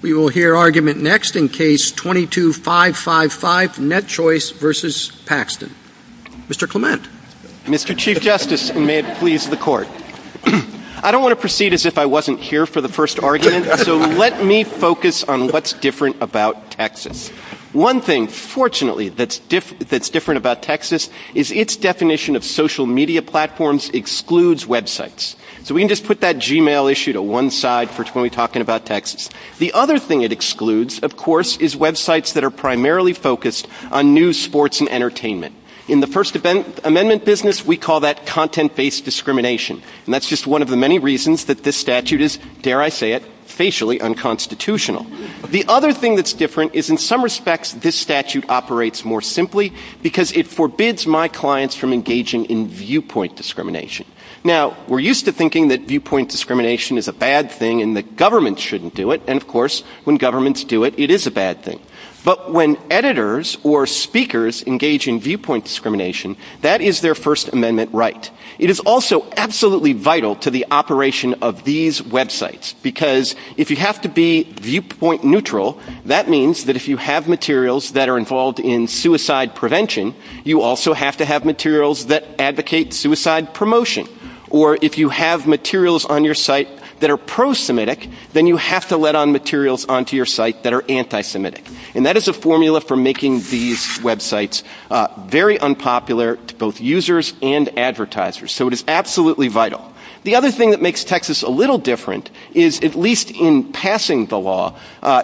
We will hear argument next in Case 22-555, NetChoice v. Paxton. Mr. Clement. Mr. Chief Justice, and may it please the Court. I don't want to proceed as if I wasn't here for the first argument, so let me focus on what's different about Texas. One thing, fortunately, that's different about Texas is its definition of social media platforms excludes websites. So we can just put that Gmail issue to one side for when we're talking about Texas. The other thing it excludes, of course, is websites that are primarily focused on news, sports, and entertainment. In the First Amendment business, we call that content-based discrimination, and that's just one of the many reasons that this statute is, dare I say it, facially unconstitutional. The other thing that's different is, in some respects, this statute operates more simply because it forbids my clients from engaging in viewpoint discrimination. Now, we're used to thinking that viewpoint discrimination is a bad thing and that governments shouldn't do it, and, of course, when governments do it, it is a bad thing. But when editors or speakers engage in viewpoint discrimination, that is their First Amendment right. It is also absolutely vital to the operation of these websites, because if you have to be viewpoint neutral, that means that if you have materials that are involved in suicide prevention, you also have to have materials that advocate suicide promotion. Or if you have materials on your site that are pro-Semitic, then you have to let on materials onto your site that are anti-Semitic. And that is a formula for making these websites very unpopular to both users and advertisers. So it is absolutely vital. The other thing that makes Texas a little different is, at least in passing the law,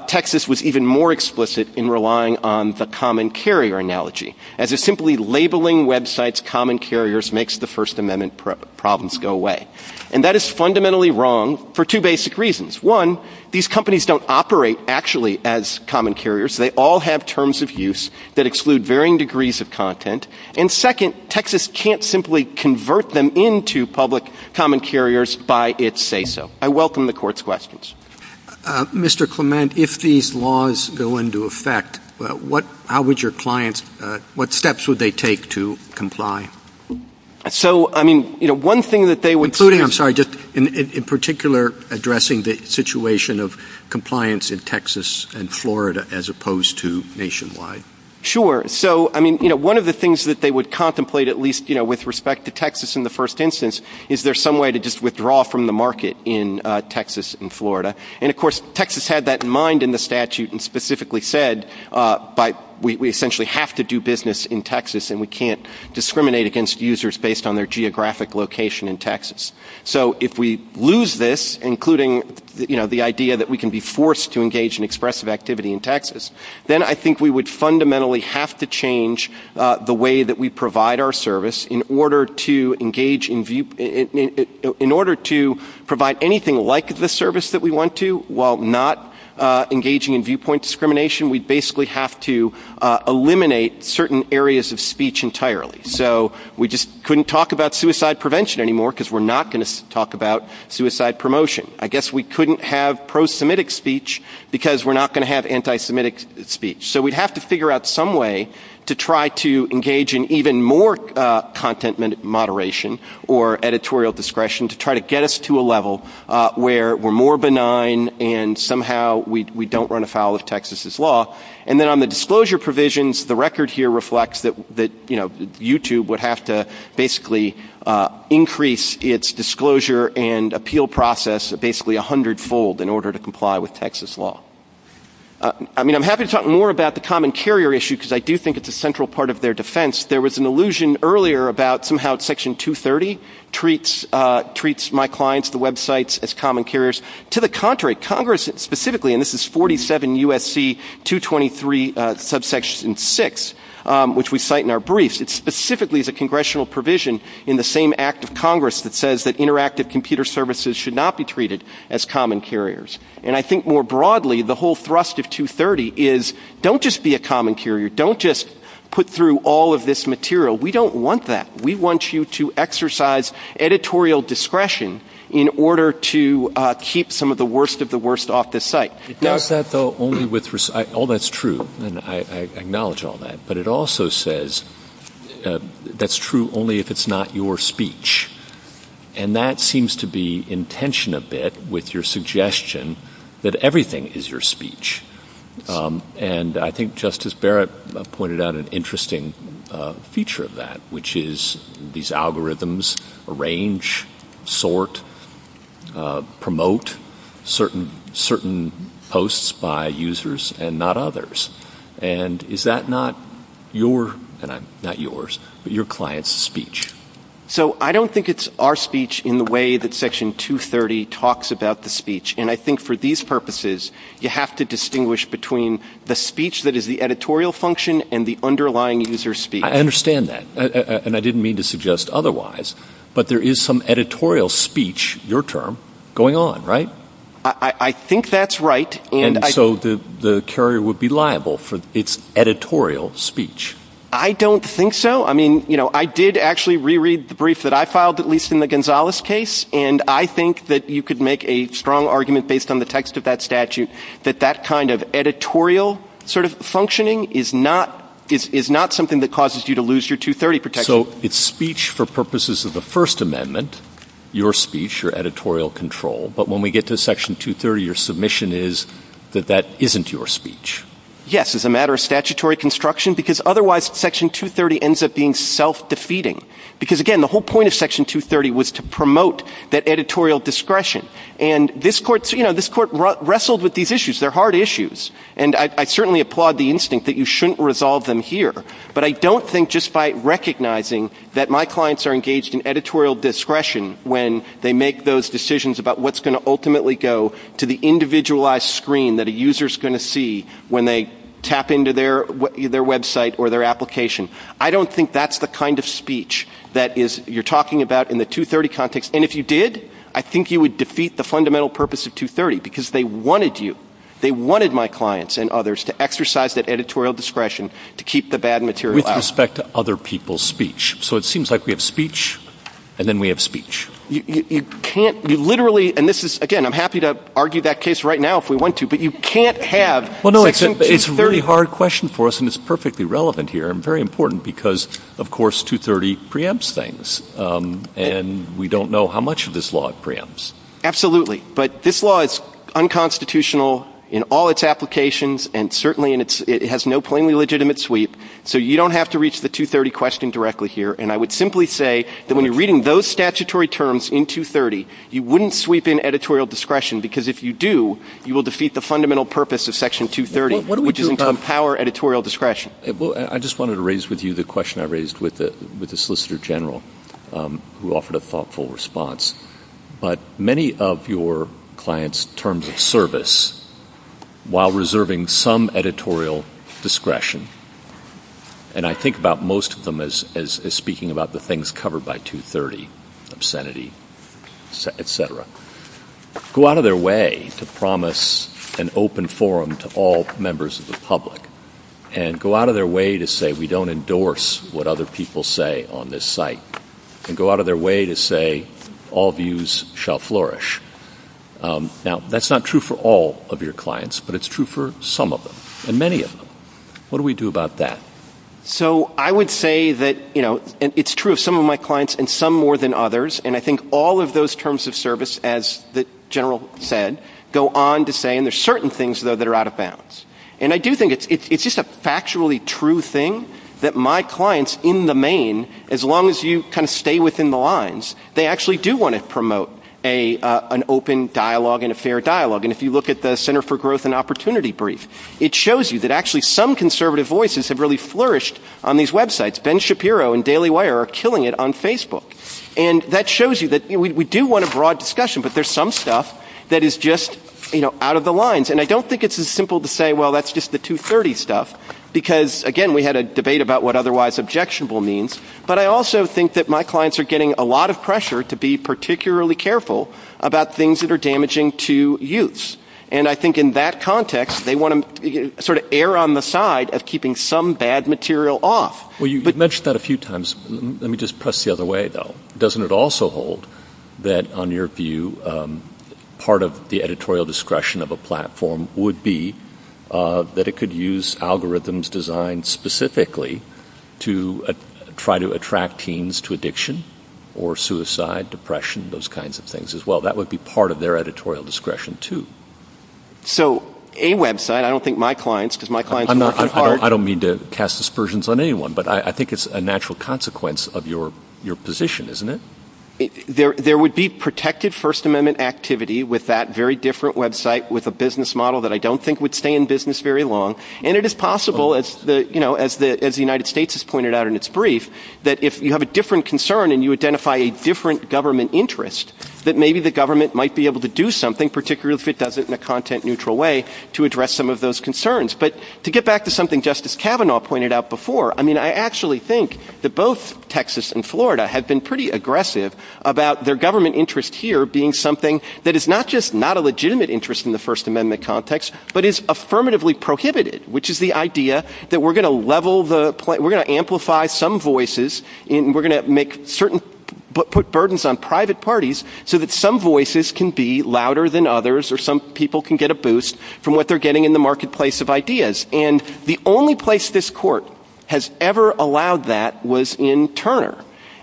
Texas was even more explicit in relying on the common carrier analogy. As if simply labeling websites common carriers makes the First Amendment problems go away. And that is fundamentally wrong for two basic reasons. One, these companies don't operate actually as common carriers. They all have terms of use that exclude varying degrees of content. And, second, Texas can't simply convert them into public common carriers by its say-so. I welcome the Court's questions. Mr. Clement, if these laws go into effect, how would your clients, what steps would they take to comply? So, I mean, you know, one thing that they would... I'm sorry, just in particular addressing the situation of compliance in Texas and Florida as opposed to nationwide. Sure. So, I mean, you know, one of the things that they would contemplate, at least, you know, with respect to Texas in the first instance, is there some way to just withdraw from the market in Texas and Florida? And, of course, Texas had that in mind in the statute and specifically said, we essentially have to do business in Texas and we can't discriminate against users based on their geographic location in Texas. So, if we lose this, including, you know, the idea that we can be forced to engage in expressive activity in Texas, then I think we would fundamentally have to change the way that we provide our service in order to provide anything like the service that we want to, while not engaging in viewpoint discrimination. We basically have to eliminate certain areas of speech entirely. So, we just couldn't talk about suicide prevention anymore because we're not going to talk about suicide promotion. I guess we couldn't have pro-Semitic speech because we're not going to have anti-Semitic speech. So, we'd have to figure out some way to try to engage in even more content moderation or editorial discretion to try to get us to a level where we're more benign and somehow we don't run afoul of Texas's law. And then on the disclosure provisions, the record here reflects that, you know, YouTube would have to basically increase its disclosure and appeal process basically 100-fold in order to comply with Texas law. I mean, I'm happy to talk more about the common carrier issue because I do think it's a central part of their defense. There was an allusion earlier about somehow Section 230 treats my clients, the websites, as common carriers. To the contrary, Congress specifically, and this is 47 U.S.C. 223 subsection 6, which we cite in our briefs, it specifically is a congressional provision in the same act of Congress that says that interactive computer services should not be treated as common carriers. And I think more broadly the whole thrust of 230 is don't just be a common carrier. Don't just put through all of this material. We don't want that. We want you to exercise editorial discretion in order to keep some of the worst of the worst off the site. Not that though only with, all that's true, and I acknowledge all that, but it also says that's true only if it's not your speech. And that seems to be in tension a bit with your suggestion that everything is your speech. And I think Justice Barrett pointed out an interesting feature of that, which is these algorithms arrange, sort, promote certain posts by users and not others. And is that not your, not yours, but your client's speech? So I don't think it's our speech in the way that section 230 talks about the speech. And I think for these purposes you have to distinguish between the speech that is the editorial function and the underlying user speech. I understand that. And I didn't mean to suggest otherwise. But there is some editorial speech, your term, going on, right? I think that's right. And so the carrier would be liable for its editorial speech. I don't think so. I mean, you know, I did actually reread the brief that I filed, at least in the Gonzales case, and I think that you could make a strong argument based on the text of that statute that that kind of editorial sort of functioning is not something that causes you to lose your 230 protection. So it's speech for purposes of the First Amendment, your speech, your editorial control. But when we get to section 230, your submission is that that isn't your speech. Yes, as a matter of statutory construction, because otherwise section 230 ends up being self-defeating. Because, again, the whole point of section 230 was to promote that editorial discretion. And this court wrestled with these issues. They're hard issues. And I certainly applaud the instinct that you shouldn't resolve them here. But I don't think just by recognizing that my clients are engaged in editorial discretion when they make those decisions about what's going to ultimately go to the individualized screen that a user's going to see when they tap into their website or their application. I don't think that's the kind of speech that you're talking about in the 230 context. And if you did, I think you would defeat the fundamental purpose of 230, because they wanted you, they wanted my clients and others to exercise that editorial discretion to keep the bad material out. With respect to other people's speech. So it seems like we have speech, and then we have speech. You can't literally, and this is, again, I'm happy to argue that case right now if we want to, but you can't have. Well, no, it's a very hard question for us, and it's perfectly relevant here and very important because, of course, 230 preempts things. And we don't know how much of this law it preempts. Absolutely. But this law is unconstitutional in all its applications, and certainly it has no plainly legitimate sweep. So you don't have to reach the 230 question directly here. And I would simply say that when you're reading those statutory terms in 230, you wouldn't sweep in editorial discretion, because if you do, you will defeat the fundamental purpose of Section 230, which is to empower editorial discretion. I just wanted to raise with you the question I raised with the Solicitor General, who offered a thoughtful response. But many of your clients' terms of service, while reserving some editorial discretion, and I think about most of them as speaking about the things covered by 230, obscenity, et cetera, go out of their way to promise an open forum to all members of the public and go out of their way to say we don't endorse what other people say on this site and go out of their way to say all views shall flourish. Now, that's not true for all of your clients, but it's true for some of them and many of them. What do we do about that? So I would say that it's true of some of my clients and some more than others. And I think all of those terms of service, as the General said, go on to say, and there are certain things, though, that are out of bounds. And I do think it's just a factually true thing that my clients in the main, as long as you kind of stay within the lines, they actually do want to promote an open dialogue and a fair dialogue. And if you look at the Center for Growth and Opportunity brief, it shows you that actually some conservative voices have really flourished on these websites. Ben Shapiro and Daily Wire are killing it on Facebook. And that shows you that we do want a broad discussion, but there's some stuff that is just out of the lines. And I don't think it's as simple to say, well, that's just the 230 stuff, because, again, we had a debate about what otherwise objectionable means. But I also think that my clients are getting a lot of pressure to be particularly careful about things that are damaging to youths. And I think in that context, they want to sort of err on the side of keeping some bad material off. Well, you mentioned that a few times. Let me just press the other way, though. Doesn't it also hold that, on your view, part of the editorial discretion of a platform would be that it could use algorithms designed specifically to try to attract teens to addiction or suicide, depression, those kinds of things as well? That would be part of their editorial discretion, too. So a website, I don't think my clients, because my clients are working hard. I don't mean to cast aspersions on anyone, but I think it's a natural consequence of your position, isn't it? There would be protected First Amendment activity with that very different website with a business model that I don't think would stay in business very long. And it is possible, as the United States has pointed out in its brief, that if you have a different concern and you identify a different government interest, that maybe the government might be able to do something, particularly if it does it in a content-neutral way, to address some of those concerns. But to get back to something Justice Kavanaugh pointed out before, I actually think that both Texas and Florida have been pretty aggressive about their government interest here being something that is not just not a legitimate interest in the First Amendment context, but is affirmatively prohibited, which is the idea that we're going to amplify some voices and we're going to put burdens on private parties so that some voices can be louder than others or some people can get a boost from what they're getting in the marketplace of ideas. And the only place this Court has ever allowed that was in Turner.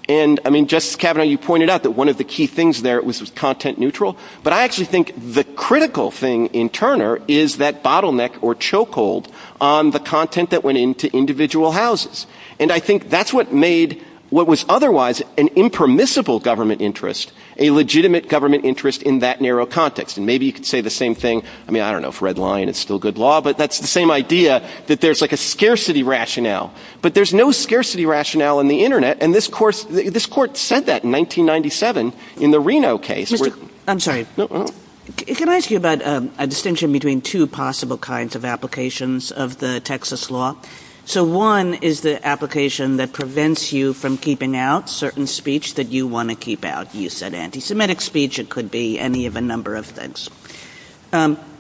And Justice Kavanaugh, you pointed out that one of the key things there was content-neutral, but I actually think the critical thing in Turner is that bottleneck or chokehold on the content that went into individual houses. And I think that's what made what was otherwise an impermissible government interest a legitimate government interest in that narrow context. And maybe you could say the same thing, I mean, I don't know if red line is still good law, but that's the same idea that there's like a scarcity rationale. But there's no scarcity rationale in the Internet, and this Court said that in 1997 in the Reno case. I'm sorry, can I ask you about a distinction between two possible kinds of applications of the Texas law? So one is the application that prevents you from keeping out certain speech that you want to keep out. You said anti-Semitic speech, it could be any of a number of things.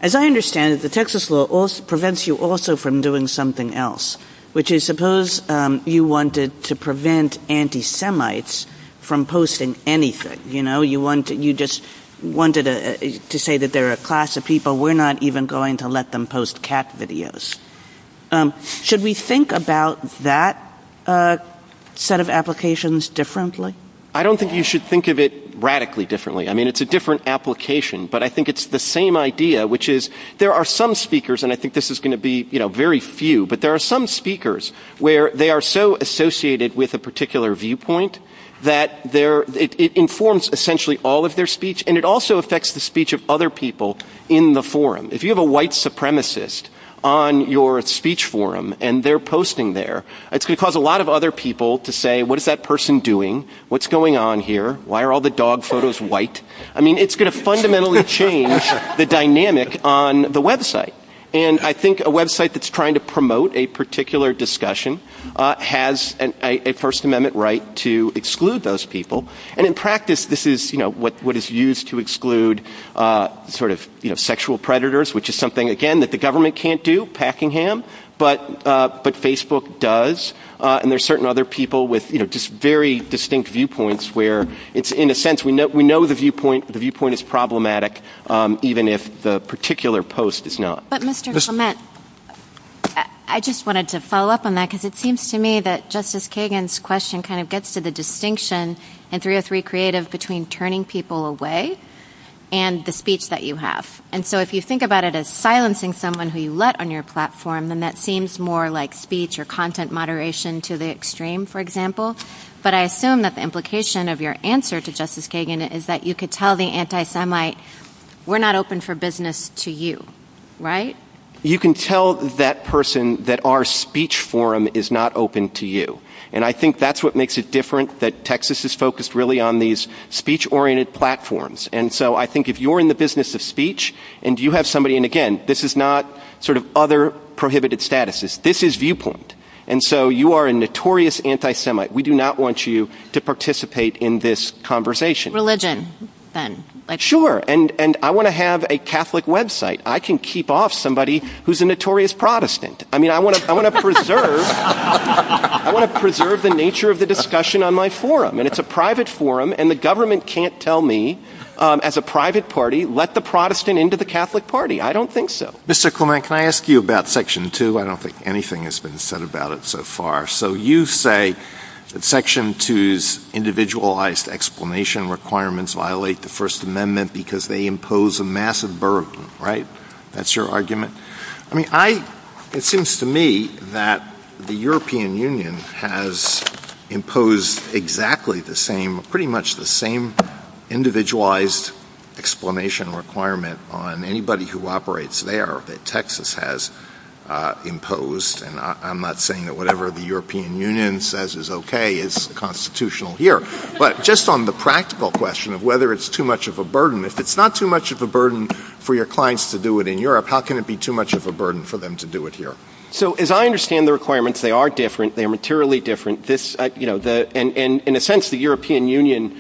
As I understand it, the Texas law prevents you also from doing something else, which is suppose you wanted to prevent anti-Semites from posting anything. You just wanted to say that they're a class of people, we're not even going to let them post cat videos. Should we think about that set of applications differently? I don't think you should think of it radically differently. I mean, it's a different application, but I think it's the same idea, which is there are some speakers, and I think this is going to be very few, but there are some speakers where they are so associated with a particular viewpoint that it informs essentially all of their speech, and it also affects the speech of other people in the forum. If you have a white supremacist on your speech forum, and they're posting there, it's going to cause a lot of other people to say, what is that person doing? What's going on here? Why are all the dog photos white? I mean, it's going to fundamentally change the dynamic on the website, and I think a website that's trying to promote a particular discussion has a First Amendment right to exclude those people, and in practice, this is what is used to exclude sexual predators, which is something, again, that the government can't do, Packingham, but Facebook does, and there are certain other people with very distinct viewpoints where, in a sense, we know the viewpoint is problematic even if the particular post is not. But Mr. Clement, I just wanted to follow up on that because it seems to me that Justice Kagan's question kind of gets to the distinction in 303 Creative between turning people away and the speech that you have, and so if you think about it as silencing someone who you let on your platform, then that seems more like speech or content moderation to the extreme, for example, but I assume that the implication of your answer to Justice Kagan is that you could tell the anti-Semite, we're not open for business to you, right? You can tell that person that our speech forum is not open to you, and I think that's what makes it different, that Texas is focused really on these speech-oriented platforms, and so I think if you're in the business of speech, and you have somebody, and again, this is not sort of other prohibited statuses, this is viewpoint, and so you are a notorious anti-Semite. We do not want you to participate in this conversation. Religion, then. Sure, and I want to have a Catholic website. I can keep off somebody who's a notorious Protestant. I mean, I want to preserve the nature of the discussion on my forum, and it's a private forum, and the government can't tell me, as a private party, let the Protestant into the Catholic party. I don't think so. Mr. Clement, can I ask you about Section 2? I don't think anything has been said about it so far. So you say that Section 2's individualized explanation requirements violate the First Amendment because they impose a massive burden, right? That's your argument. I mean, it seems to me that the European Union has imposed exactly the same, pretty much the same individualized explanation requirement on anybody who operates there that Texas has imposed, and I'm not saying that whatever the European Union says is okay is constitutional here, but just on the practical question of whether it's too much of a burden, if it's not too much of a burden for your clients to do it in Europe, how can it be too much of a burden for them to do it here? So as I understand the requirements, they are different. They are materially different. In a sense, the European Union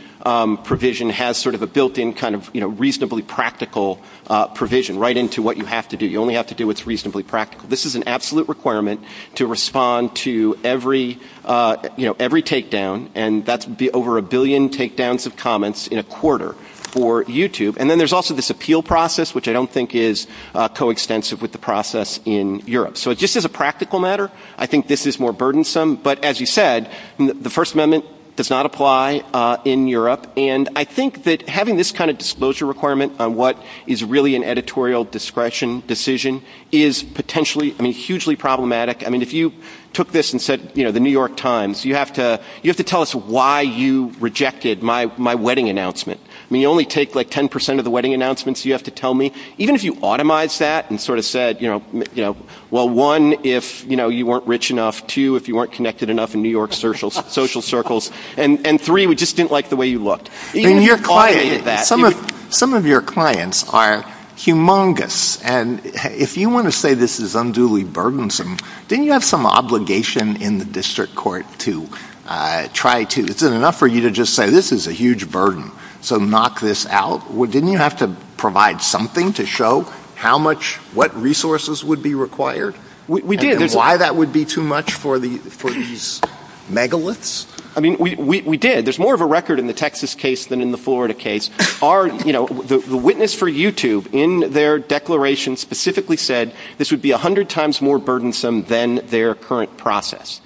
provision has sort of a built-in kind of reasonably practical provision right into what you have to do. You only have to do what's reasonably practical. This is an absolute requirement to respond to every takedown, and that would be over a billion takedowns of comments in a quarter for YouTube. And then there's also this appeal process, which I don't think is coextensive with the process in Europe. So just as a practical matter, I think this is more burdensome, but as you said, the First Amendment does not apply in Europe, and I think that having this kind of disclosure requirement on what is really an editorial discretion decision is potentially, I mean, hugely problematic. I mean, if you took this and said, you know, the New York Times, you have to tell us why you rejected my wedding announcement. I mean, you only take like 10% of the wedding announcements you have to tell me. Even if you automized that and sort of said, you know, well, one, if you weren't rich enough, two, if you weren't connected enough in New York social circles, and three, we just didn't like the way you looked. Some of your clients are humongous, and if you want to say this is unduly burdensome, then you have some obligation in the district court to try to. It's enough for you to just say this is a huge burden, so knock this out. Didn't you have to provide something to show how much, what resources would be required? We did. And why that would be too much for these megaliths? I mean, we did. There's more of a record in the Texas case than in the Florida case. Our, you know, the witness for YouTube in their declaration specifically said this would be 100 times more burdensome than their current process.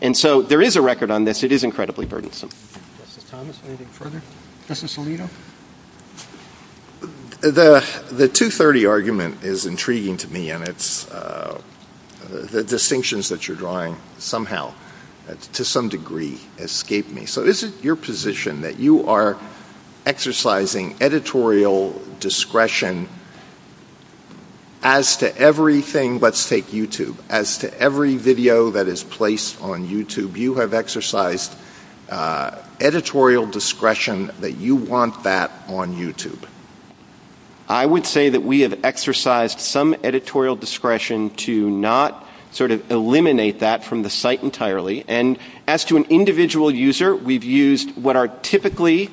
And so there is a record on this. It is incredibly burdensome. Mr. Thomas, anything further? Mr. Salido? The 230 argument is intriguing to me, and it's the distinctions that you're drawing somehow to some degree escape me. So is it your position that you are exercising editorial discretion as to everything, let's take YouTube, as to every video that is placed on YouTube, you have exercised editorial discretion that you want that on YouTube? I would say that we have exercised some editorial discretion to not sort of eliminate that from the site entirely. And as to an individual user, we've used what are typically,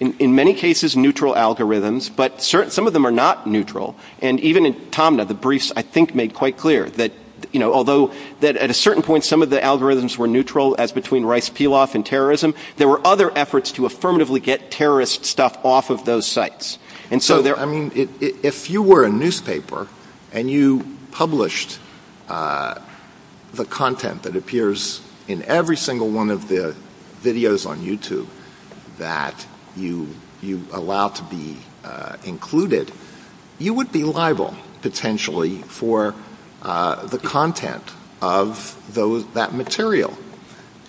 in many cases, neutral algorithms, but some of them are not neutral. And even in Tomna, the briefs, I think, made quite clear that, you know, although at a certain point some of the algorithms were neutral, as between Rice Piloff and terrorism, there were other efforts to affirmatively get terrorist stuff off of those sites. And so there are... I mean, if you were a newspaper and you published the content that appears in every single one of the videos on YouTube that you allow to be included, you would be liable, potentially, for the content of that material.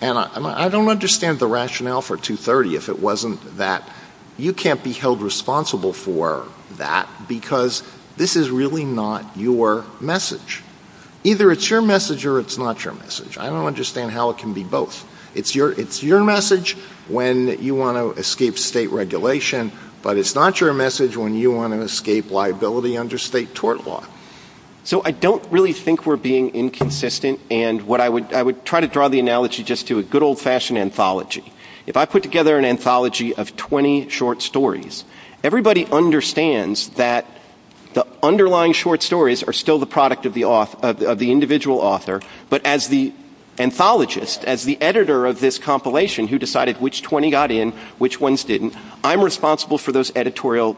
And I don't understand the rationale for 230 if it wasn't that you can't be held responsible for that because this is really not your message. Either it's your message or it's not your message. I don't understand how it can be both. It's your message when you want to escape state regulation, but it's not your message when you want to escape liability under state tort law. So I don't really think we're being inconsistent, and I would try to draw the analogy just to a good old-fashioned anthology. If I put together an anthology of 20 short stories, everybody understands that the underlying short stories are still the product of the individual author, but as the anthologist, as the editor of this compilation who decided which 20 got in, which ones didn't, I'm responsible for those editorial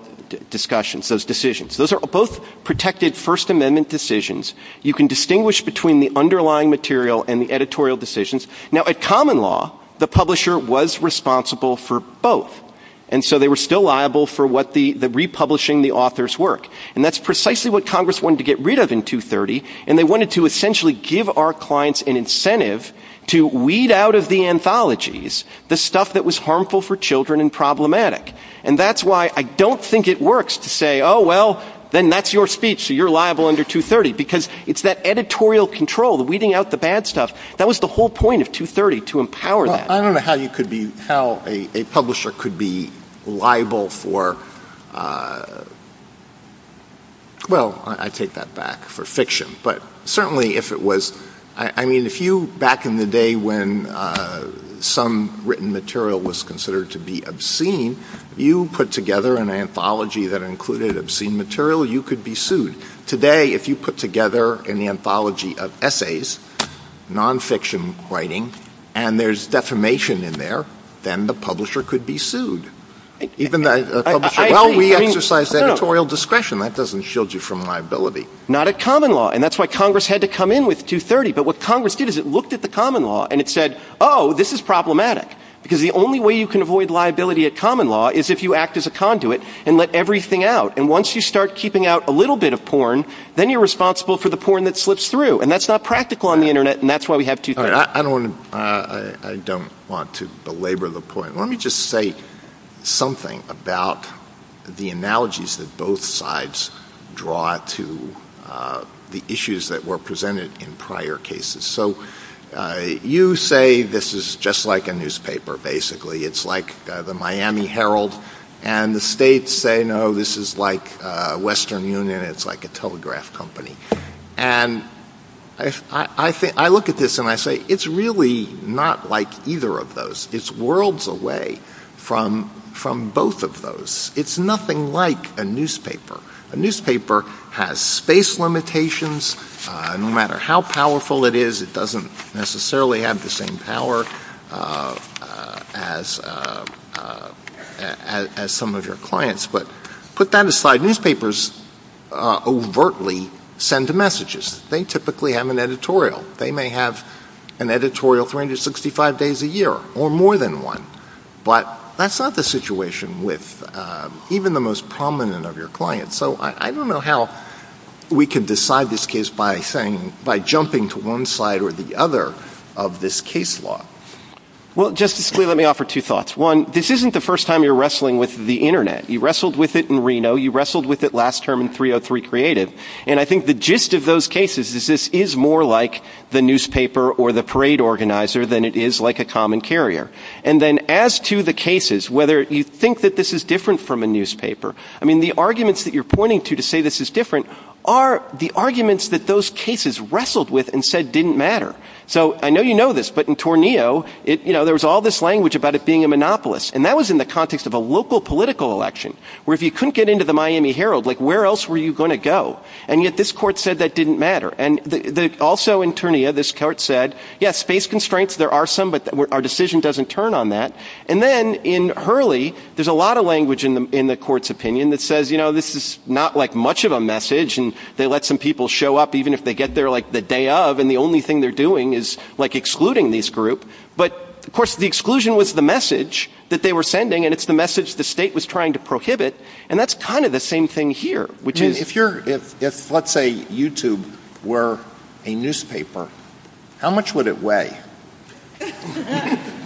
discussions, those decisions. Those are both protected First Amendment decisions. You can distinguish between the underlying material and the editorial decisions. Now, at Common Law, the publisher was responsible for both, and so they were still liable for republishing the author's work, and that's precisely what Congress wanted to get rid of in 230, and they wanted to essentially give our clients an incentive to weed out of the anthologies the stuff that was harmful for children and problematic, and that's why I don't think it works to say, oh, well, then that's your speech, so you're liable under 230, because it's that editorial control, the weeding out the bad stuff. That was the whole point of 230, to empower that. Well, I don't know how a publisher could be liable for, well, I take that back for fiction, but certainly if it was, I mean, if you, back in the day, when some written material was considered to be obscene, you put together an anthology that included obscene material, you could be sued. Today, if you put together an anthology of essays, nonfiction writing, and there's defamation in there, then the publisher could be sued. Well, we exercise editorial discretion. That doesn't shield you from liability. Not a common law, and that's why Congress had to come in with 230, but what Congress did is it looked at the common law, and it said, oh, this is problematic, because the only way you can avoid liability at common law is if you act as a conduit and let everything out, and once you start keeping out a little bit of porn, then you're responsible for the porn that slips through, and that's not practical on the Internet, and that's why we have 230. I don't want to belabor the point. Let me just say something about the analogies that both sides draw to the issues that were presented in prior cases. So you say this is just like a newspaper, basically. It's like the Miami Herald, and the states say, no, this is like Western Union. It's like a telegraph company, and I look at this, and I say, it's really not like either of those. It's worlds away from both of those. It's nothing like a newspaper. A newspaper has space limitations. No matter how powerful it is, it doesn't necessarily have the same power as some of your clients, but put that aside. Newspapers overtly send messages. They typically have an editorial. They may have an editorial 365 days a year, or more than one, but that's not the situation with even the most prominent of your clients. So I don't know how we can decide this case by jumping to one side or the other of this case law. Well, just let me offer two thoughts. One, this isn't the first time you're wrestling with the Internet. You wrestled with it in Reno. You wrestled with it last term in 303 Creative, and I think the gist of those cases is this is more like the newspaper or the parade organizer than it is like a common carrier. And then as to the cases, whether you think that this is different from a newspaper, I mean, the arguments that you're pointing to to say this is different are the arguments that those cases wrestled with and said didn't matter. So I know you know this, but in Torneo, there was all this language about it being a monopolist, and that was in the context of a local political election, where if you couldn't get into the Miami Herald, like, where else were you going to go? And yet this court said that didn't matter. And also in Torneo, this court said, yes, space constraints, there are some, but our decision doesn't turn on that. And then in Hurley, there's a lot of language in the court's opinion that says, you know, this is not like much of a message, and they let some people show up even if they get there, like, the day of, and the only thing they're doing is, like, excluding this group. But, of course, the exclusion was the message that they were sending, and it's the message the state was trying to prohibit, and that's kind of the same thing here. If, let's say, YouTube were a newspaper, how much would it weigh?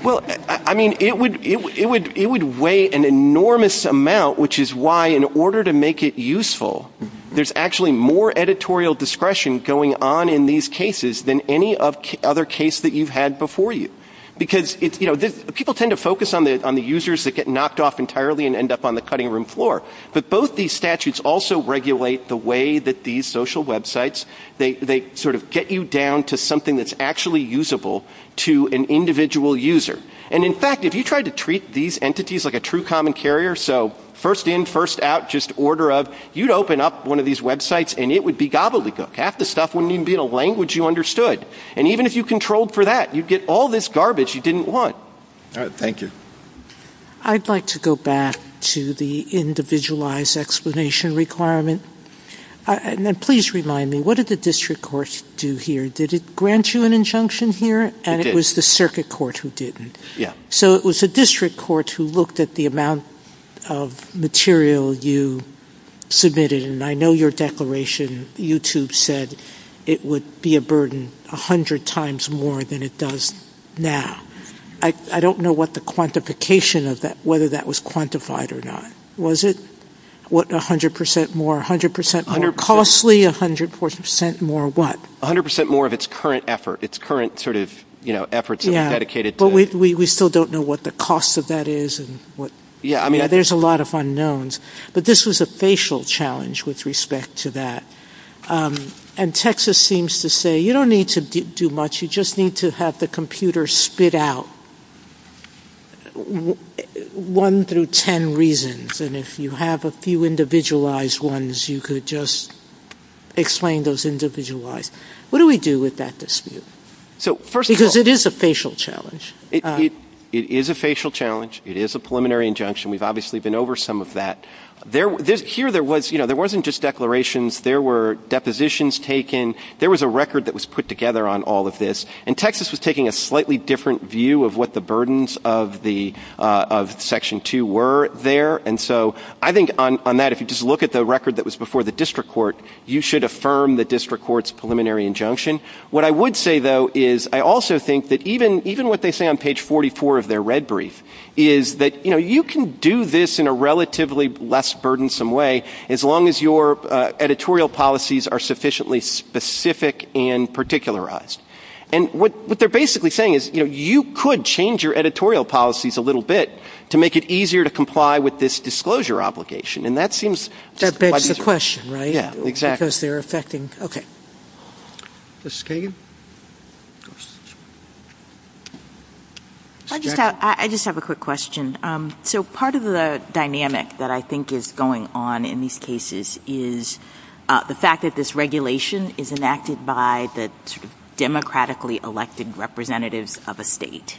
Well, I mean, it would weigh an enormous amount, which is why in order to make it useful, there's actually more editorial discretion going on in these cases than any other case that you've had before you. Because, you know, people tend to focus on the users that get knocked off entirely and end up on the cutting room floor. But both these statutes also regulate the way that these social websites, they sort of get you down to something that's actually usable to an individual user. And, in fact, if you tried to treat these entities like a true common carrier, so first in, first out, just order of, you'd open up one of these websites, and it would be gobbledygook. Half the stuff wouldn't even be a language you understood. And even if you controlled for that, you'd get all this garbage you didn't want. All right. Thank you. I'd like to go back to the individualized explanation requirement. And please remind me, what did the district court do here? Did it grant you an injunction here? It did. And it was the circuit court who didn't. Yeah. So it was the district court who looked at the amount of material you submitted, and I know your declaration, YouTube, said it would be a burden 100 times more than it does now. I don't know what the quantification of that, whether that was quantified or not. Was it? What, 100% more, 100% more costly, 100% more what? 100% more of its current effort, its current sort of, you know, efforts of dedicated. Yeah. But we still don't know what the cost of that is and what. Yeah, I mean. Yeah, there's a lot of unknowns. But this was a facial challenge with respect to that. And Texas seems to say you don't need to do much. You just need to have the computer spit out one through ten reasons. And if you have a few individualized ones, you could just explain those individualized. What do we do with that dispute? So first of all. Because it is a facial challenge. It is a facial challenge. It is a preliminary injunction. We've obviously been over some of that. Here there wasn't just declarations. There were depositions taken. There was a record that was put together on all of this. And Texas was taking a slightly different view of what the burdens of Section 2 were there. And so I think on that, if you just look at the record that was before the district court, you should affirm the district court's preliminary injunction. What I would say, though, is I also think that even what they say on page 44 of their red brief is that, you know, you can do this in a relatively less burdensome way as long as your editorial policies are sufficiently specific and particularized. And what they're basically saying is, you know, you could change your editorial policies a little bit to make it easier to comply with this disclosure obligation. And that seems to be easier. That begs the question, right? Yeah, exactly. Because they're affecting. Okay. Mrs. Kagan? I just have a quick question. So part of the dynamic that I think is going on in these cases is the fact that this regulation is enacted by the democratically elected representative of a state.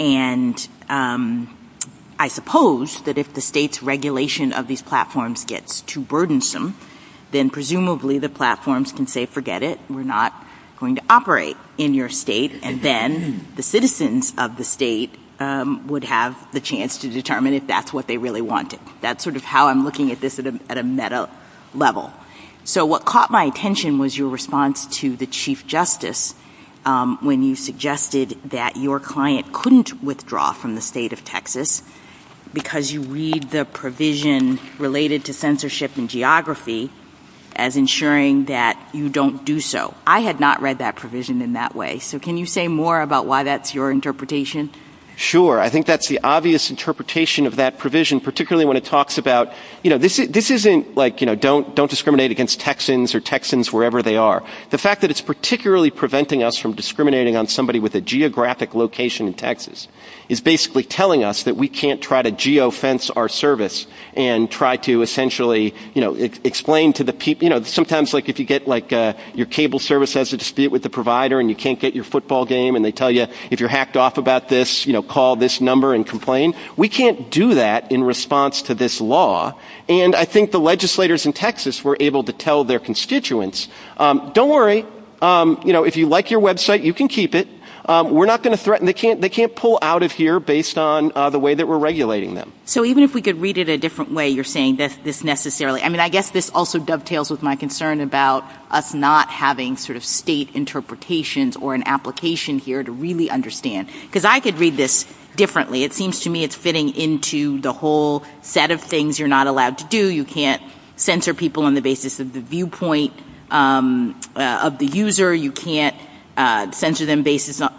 And I suppose that if the state's regulation of these platforms gets too burdensome, then presumably the platforms can say, forget it. We're not going to operate in your state. And then the citizens of the state would have the chance to determine if that's what they really wanted. That's sort of how I'm looking at this at a meta level. So what caught my attention was your response to the Chief Justice when you suggested that your client couldn't withdraw from the state of Texas because you read the provision related to censorship and geography as ensuring that you don't do so. I had not read that provision in that way. So can you say more about why that's your interpretation? Sure. I think that's the obvious interpretation of that provision, particularly when it talks about, you know, this isn't like, you know, don't discriminate against Texans or Texans wherever they are. The fact that it's particularly preventing us from discriminating on somebody with a geographic location in Texas is basically telling us that we can't try to geofence our service and try to essentially, you know, explain to the people, you know, sometimes like if you get like your cable service has a dispute with the provider and you can't get your football game and they tell you if you're hacked off about this, you know, call this number and complain. We can't do that in response to this law. And I think the legislators in Texas were able to tell their constituents, don't worry. You know, if you like your website, you can keep it. We're not going to threaten. They can't pull out of here based on the way that we're regulating them. So even if we could read it a different way, you're saying this necessarily. I mean, I guess this also dovetails with my concern about us not having sort of state interpretations or an application here to really understand. Because I could read this differently. It seems to me it's fitting into the whole set of things you're not allowed to do. You can't censor people on the basis of the viewpoint of the user. You can't censor them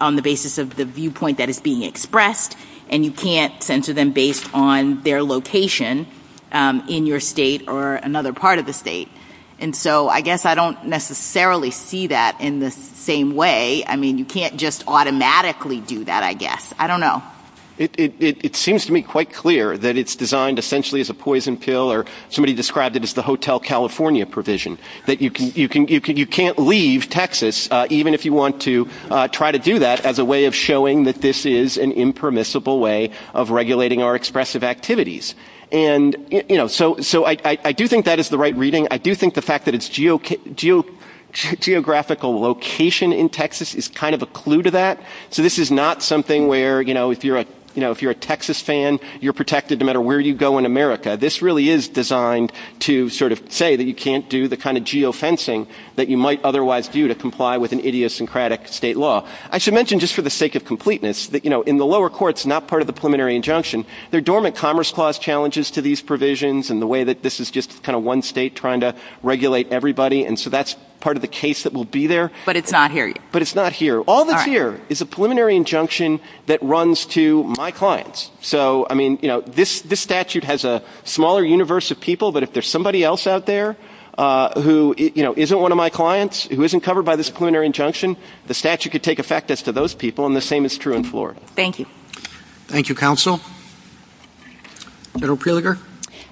on the basis of the viewpoint that is being expressed. And you can't censor them based on their location in your state or another part of the state. And so I guess I don't necessarily see that in the same way. I mean, you can't just automatically do that, I guess. I don't know. It seems to me quite clear that it's designed essentially as a poison pill or somebody described it as the Hotel California provision. That you can't leave Texas, even if you want to try to do that, as a way of showing that this is an impermissible way of regulating our expressive activities. And, you know, so I do think that is the right reading. I do think the fact that it's geographical location in Texas is kind of a clue to that. So this is not something where, you know, if you're a Texas fan, you're protected no matter where you go in America. This really is designed to sort of say that you can't do the kind of geofencing that you might otherwise do to comply with an idiosyncratic state law. I should mention just for the sake of completeness that, you know, in the lower courts, not part of the preliminary injunction, there are dormant commerce clause challenges to these provisions and the way that this is just kind of one state trying to regulate everybody. And so that's part of the case that will be there. But it's not here. But it's not here. All that's here is a preliminary injunction that runs to my clients. So, I mean, you know, this statute has a smaller universe of people, but if there's somebody else out there who, you know, isn't one of my clients, who isn't covered by this preliminary injunction, the statute could take effect as to those people, and the same is true in Florida. Thank you. Thank you, counsel. Senator Preliger.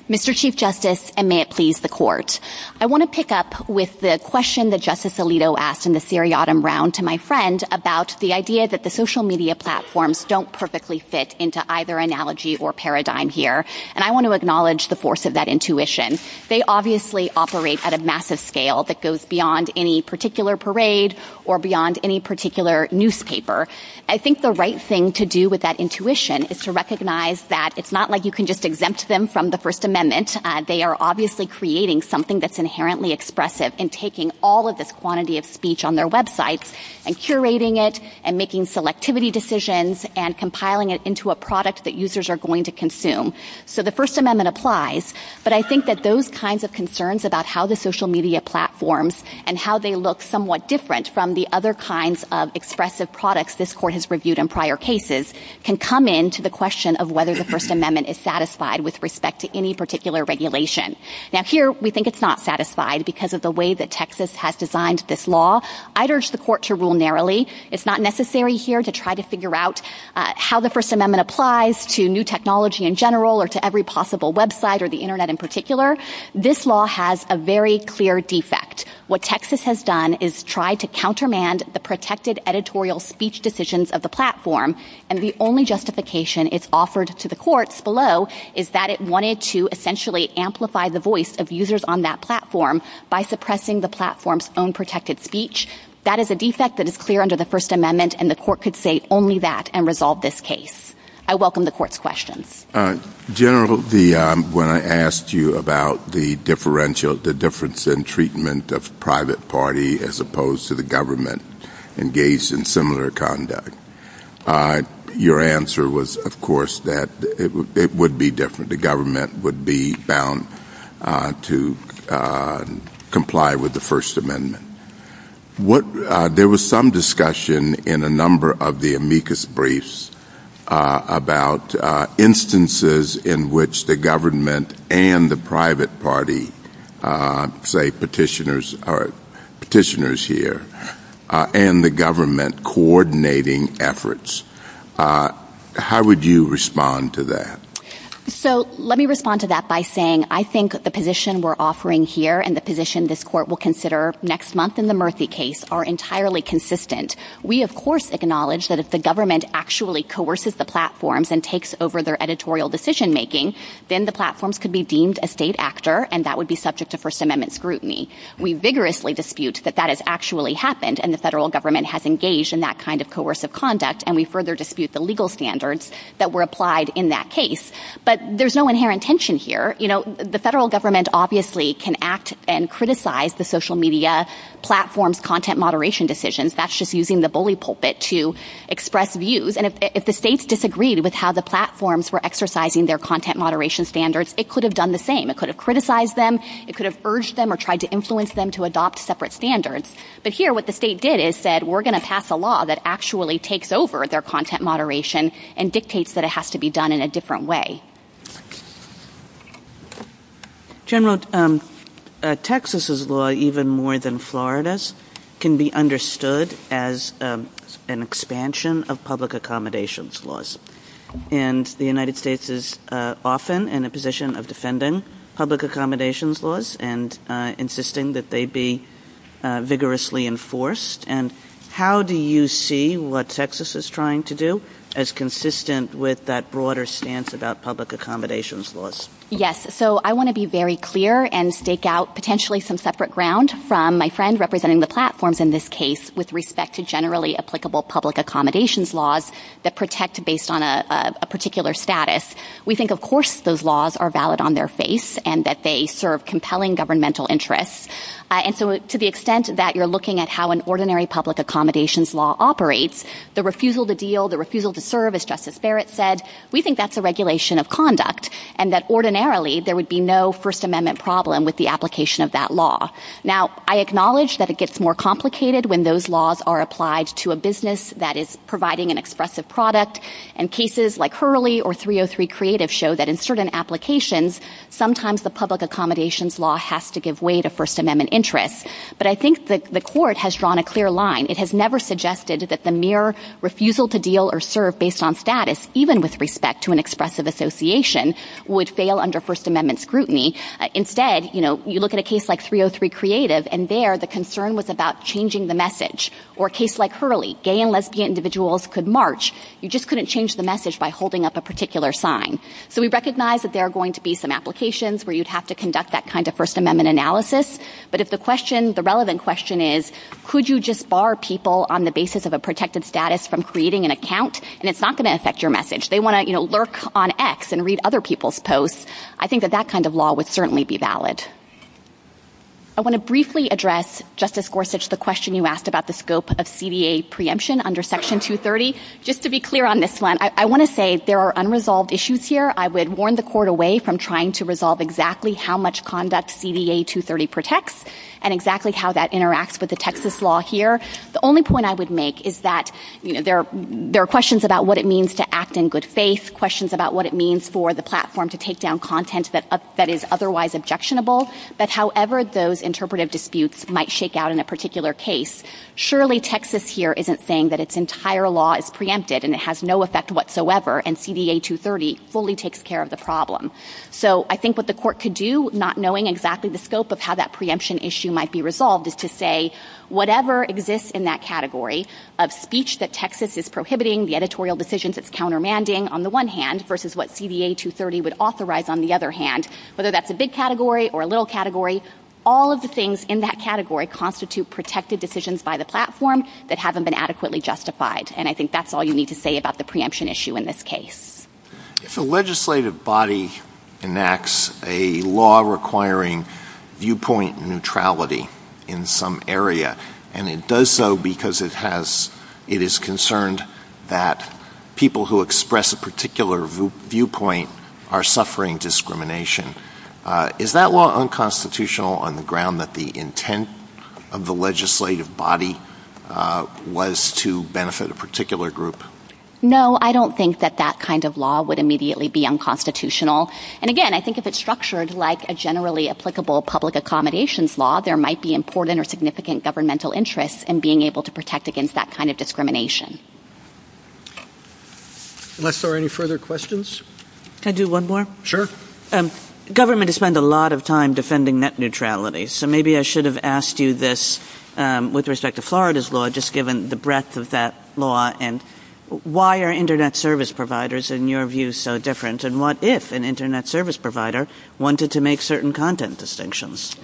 Mr. Chief Justice, and may it please the court, I want to pick up with the question that Justice Alito asked in the seriatim round to my friend about the idea that the social media platforms don't perfectly fit into either analogy or paradigm here, and I want to acknowledge the force of that intuition. They obviously operate at a massive scale that goes beyond any particular parade or beyond any particular newspaper. I think the right thing to do with that intuition is to recognize that it's not like you can just exempt them from the First Amendment. They are obviously creating something that's inherently expressive in taking all of this quantity of speech on their websites and curating it and making selectivity decisions and compiling it into a product that users are going to consume. So the First Amendment applies, but I think that those kinds of concerns about how the social media platforms and how they look somewhat different from the other kinds of expressive products this court has reviewed in prior cases can come into the question of whether the First Amendment is satisfied with respect to any particular regulation. Now here we think it's not satisfied because of the way that Texas has designed this law. I'd urge the court to rule narrowly. It's not necessary here to try to figure out how the First Amendment applies to new technology in general or to every possible website or the Internet in particular. This law has a very clear defect. What Texas has done is try to countermand the protected editorial speech decisions of the platform, and the only justification it's offered to the courts below is that it wanted to essentially amplify the voice of users on that platform by suppressing the platform's own protected speech. That is a defect that is clear under the First Amendment, and the court could say only that and resolve this case. I welcome the court's questions. General, when I asked you about the difference in treatment of the private party as opposed to the government engaged in similar conduct, your answer was, of course, that it would be different. The government would be bound to comply with the First Amendment. There was some discussion in a number of the amicus briefs about instances in which the government and the private party, say petitioners here, and the government coordinating efforts. How would you respond to that? Let me respond to that by saying I think the position we're offering here and the position this court will consider next month in the Murphy case are entirely consistent. We, of course, acknowledge that if the government actually coerces the platforms and takes over their editorial decision-making, then the platforms could be deemed a state actor, and that would be subject to First Amendment scrutiny. We vigorously dispute that that has actually happened, and the federal government has engaged in that kind of coercive conduct, and we further dispute the legal standards that were applied in that case. But there's no inherent tension here. You know, the federal government obviously can act and criticize the social media platforms' content moderation decisions. That's just using the bully pulpit to express views. And if the states disagreed with how the platforms were exercising their content moderation standards, it could have done the same. It could have criticized them. It could have urged them or tried to influence them to adopt separate standards. But here what the state did is said we're going to pass a law that actually takes over their content moderation and dictates that it has to be done in a different way. General, Texas's law, even more than Florida's, can be understood as an expansion of public accommodations laws, and the United States is often in a position of defending public accommodations laws and insisting that they be vigorously enforced. And how do you see what Texas is trying to do as consistent with that broader stance about public accommodations laws? Yes. So I want to be very clear and stake out potentially some separate ground from my friend representing the platforms in this case with respect to generally applicable public accommodations laws that protect based on a particular status. We think, of course, those laws are valid on their face and that they serve compelling governmental interests. And so to the extent that you're looking at how an ordinary public accommodations law operates, the refusal to deal, the refusal to serve, as Justice Barrett said, we think that's a regulation of conduct and that ordinarily there would be no First Amendment problem with the application of that law. Now, I acknowledge that it gets more complicated when those laws are applied to a business that is providing an expressive product, and cases like Hurley or 303 Creative show that in certain applications, sometimes the public accommodations law has to give way to First Amendment interests. But I think that the Court has drawn a clear line. It has never suggested that the mere refusal to deal or serve based on status, even with respect to an expressive association, would fail under First Amendment scrutiny. Instead, you look at a case like 303 Creative, and there the concern was about changing the message. Or a case like Hurley, gay and lesbian individuals could march. You just couldn't change the message by holding up a particular sign. So we recognize that there are going to be some applications where you'd have to conduct that kind of First Amendment analysis, but if the relevant question is, could you just bar people on the basis of a protected status from creating an account, and it's not going to affect your message. They want to lurk on X and read other people's posts. I think that that kind of law would certainly be valid. I want to briefly address, Justice Gorsuch, the question you asked about the scope of CDA preemption under Section 230. Just to be clear on this one, I want to say there are unresolved issues here. I would warn the Court away from trying to resolve exactly how much conduct CDA 230 protects and exactly how that interacts with the Texas law here. The only point I would make is that there are questions about what it means to act in good faith, questions about what it means for the platform to take down content that is otherwise objectionable, but however those interpretive disputes might shake out in a particular case, surely Texas here isn't saying that its entire law is preempted and it has no effect whatsoever, and CDA 230 fully takes care of the problem. So I think what the Court could do, not knowing exactly the scope of how that preemption issue might be resolved, is to say whatever exists in that category of speech that Texas is prohibiting, the editorial decisions it's countermanding, on the one hand, versus what CDA 230 would authorize, on the other hand, whether that's a big category or a little category, all of the things in that category constitute protected decisions by the platform that haven't been adequately justified. And I think that's all you need to say about the preemption issue in this case. If a legislative body enacts a law requiring viewpoint neutrality in some area, and it does so because it is concerned that people who express a particular viewpoint are suffering discrimination, is that law unconstitutional on the ground that the intent of the legislative body was to benefit a particular group? No, I don't think that that kind of law would immediately be unconstitutional. And again, I think if it's structured like a generally applicable public accommodations law, there might be important or significant governmental interests in being able to protect against that kind of discrimination. Unless there are any further questions? Can I do one more? Sure. Governments spend a lot of time defending net neutrality, so maybe I should have asked you this with respect to Florida's law, just given the breadth of that law, and why are Internet service providers, in your view, so different, and what if an Internet service provider wanted to make certain content distinctions?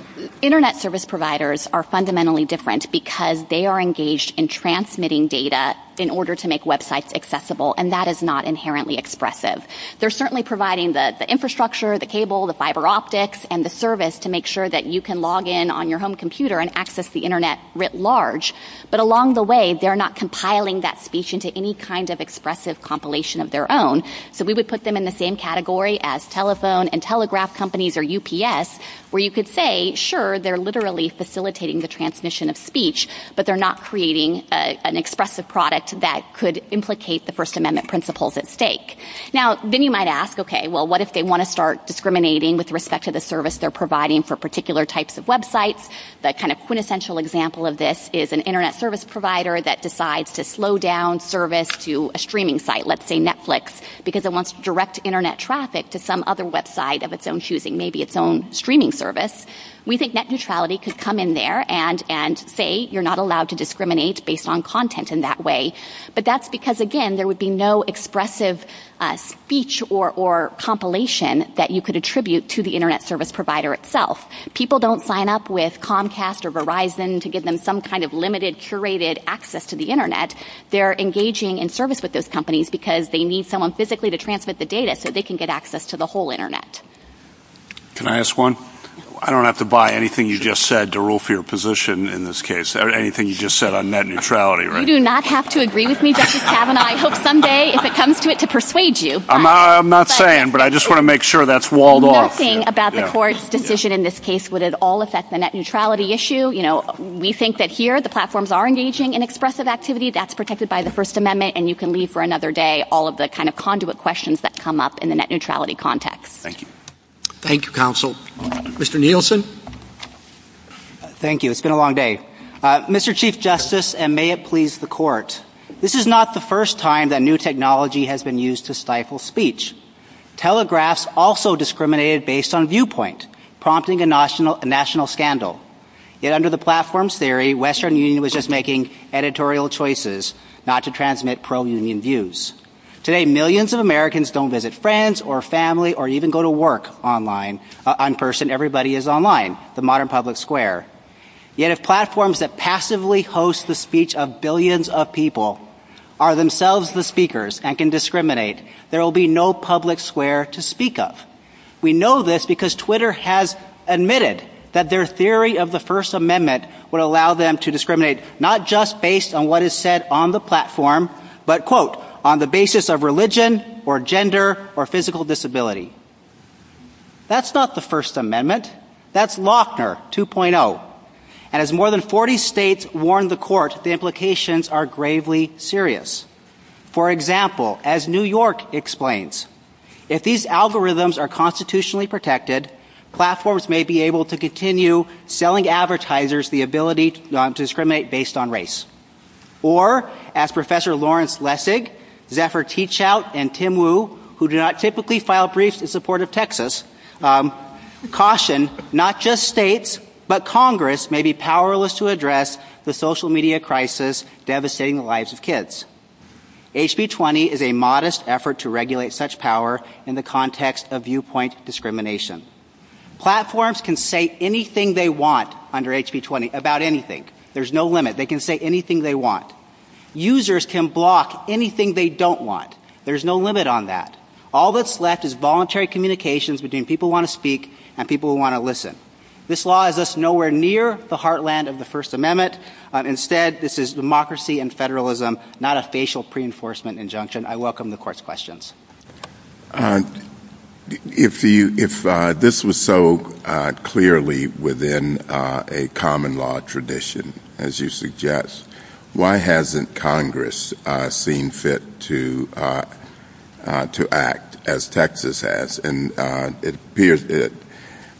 Internet service providers are fundamentally different because they are engaged in transmitting data in order to make websites accessible, and that is not inherently expressive. They're certainly providing the infrastructure, the cable, the fiber optics, and the service to make sure that you can log in on your home computer and access the Internet writ large, but along the way, they're not compiling that speech into any kind of expressive compilation of their own. So we would put them in the same category as telephone and telegraph companies or UPS, where you could say, sure, they're literally facilitating the transmission of speech, but they're not creating an expressive product that could implicate the First Amendment principles at stake. Now, then you might ask, okay, well, what if they want to start discriminating with respect to the service they're providing for particular types of websites? The kind of quintessential example of this is an Internet service provider that decides to slow down service to a streaming site, let's say Netflix, because it wants direct Internet traffic to some other website of its own choosing, maybe its own streaming service. We think net neutrality could come in there and say, you're not allowed to discriminate based on content in that way. But that's because, again, there would be no expressive speech or compilation that you could attribute to the Internet service provider itself. People don't sign up with Comcast or Verizon to give them some kind of limited curated access to the Internet. They're engaging in service with those companies because they need someone physically to transmit the data so they can get access to the whole Internet. Can I ask one? I don't have to buy anything you just said to rule for your position in this case, or anything you just said on net neutrality, right? You do not have to agree with me, Justice Kavanaugh. I hope someday, if it comes to it, to persuade you. I'm not saying, but I just want to make sure that's walled off. Nothing about the court's decision in this case would at all affect the net neutrality issue. We think that here the platforms are engaging in expressive activity. That's protected by the First Amendment, and you can leave for another day all of the kind of conduit questions that come up in the net neutrality context. Thank you. Thank you, counsel. Mr. Nielsen? Thank you. It's been a long day. Mr. Chief Justice, and may it please the court, this is not the first time that new technology has been used to stifle speech. Telegraphs also discriminated based on viewpoint, prompting a national scandal. Yet under the platforms theory, Western Union was just making editorial choices not to transmit pro-Union views. Today, millions of Americans don't visit friends or family or even go to work online. On person, everybody is online. The modern public square. Yet if platforms that passively host the speech of billions of people are themselves the speakers and can discriminate, there will be no public square to speak of. We know this because Twitter has admitted that their theory of the First Amendment would allow them to discriminate not just based on what is said on the platform, but, quote, on the basis of religion or gender or physical disability. That's not the First Amendment. That's Lochner 2.0. And as more than 40 states warned the court, the implications are gravely serious. For example, as New York explains, if these algorithms are constitutionally protected, platforms may be able to continue selling advertisers the ability to discriminate based on race. Or, as Professor Lawrence Lessig, Zephyr Teachout, and Tim Wu, who do not typically file briefs in support of Texas, caution, not just states, but Congress may be powerless to address the social media crisis devastating the lives of kids. HB 20 is a modest effort to regulate such power in the context of viewpoint discrimination. Platforms can say anything they want under HB 20, about anything. There's no limit. They can say anything they want. Users can block anything they don't want. There's no limit on that. All that's left is voluntary communications between people who want to speak and people who want to listen. This law is thus nowhere near the heartland of the First Amendment. Instead, this is democracy and federalism, not a facial pre-enforcement injunction. I welcome the court's questions. If this was so clearly within a common law tradition, as you suggest, why hasn't Congress seen fit to act as Texas has? And it appears that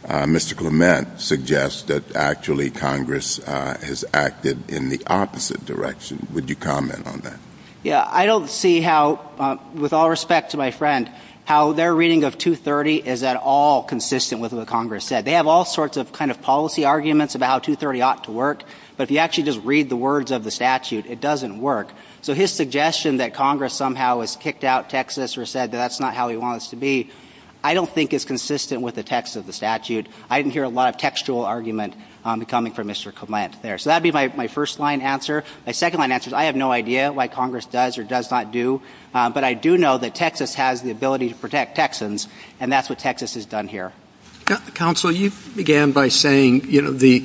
Mr. Clement suggests that actually Congress has acted in the opposite direction. Would you comment on that? Yeah, I don't see how, with all respect to my friend, how their reading of 230 is at all consistent with what Congress said. They have all sorts of kind of policy arguments about how 230 ought to work, but if you actually just read the words of the statute, it doesn't work. So his suggestion that Congress somehow has kicked out Texas or said that that's not how he wants to be, I don't think is consistent with the text of the statute. I didn't hear a lot of textual argument coming from Mr. Clement there. So that would be my first-line answer. My second-line answer is I have no idea why Congress does or does not do, but I do know that Texas has the ability to protect Texans, and that's what Texas has done here. Counsel, you began by saying, you know, the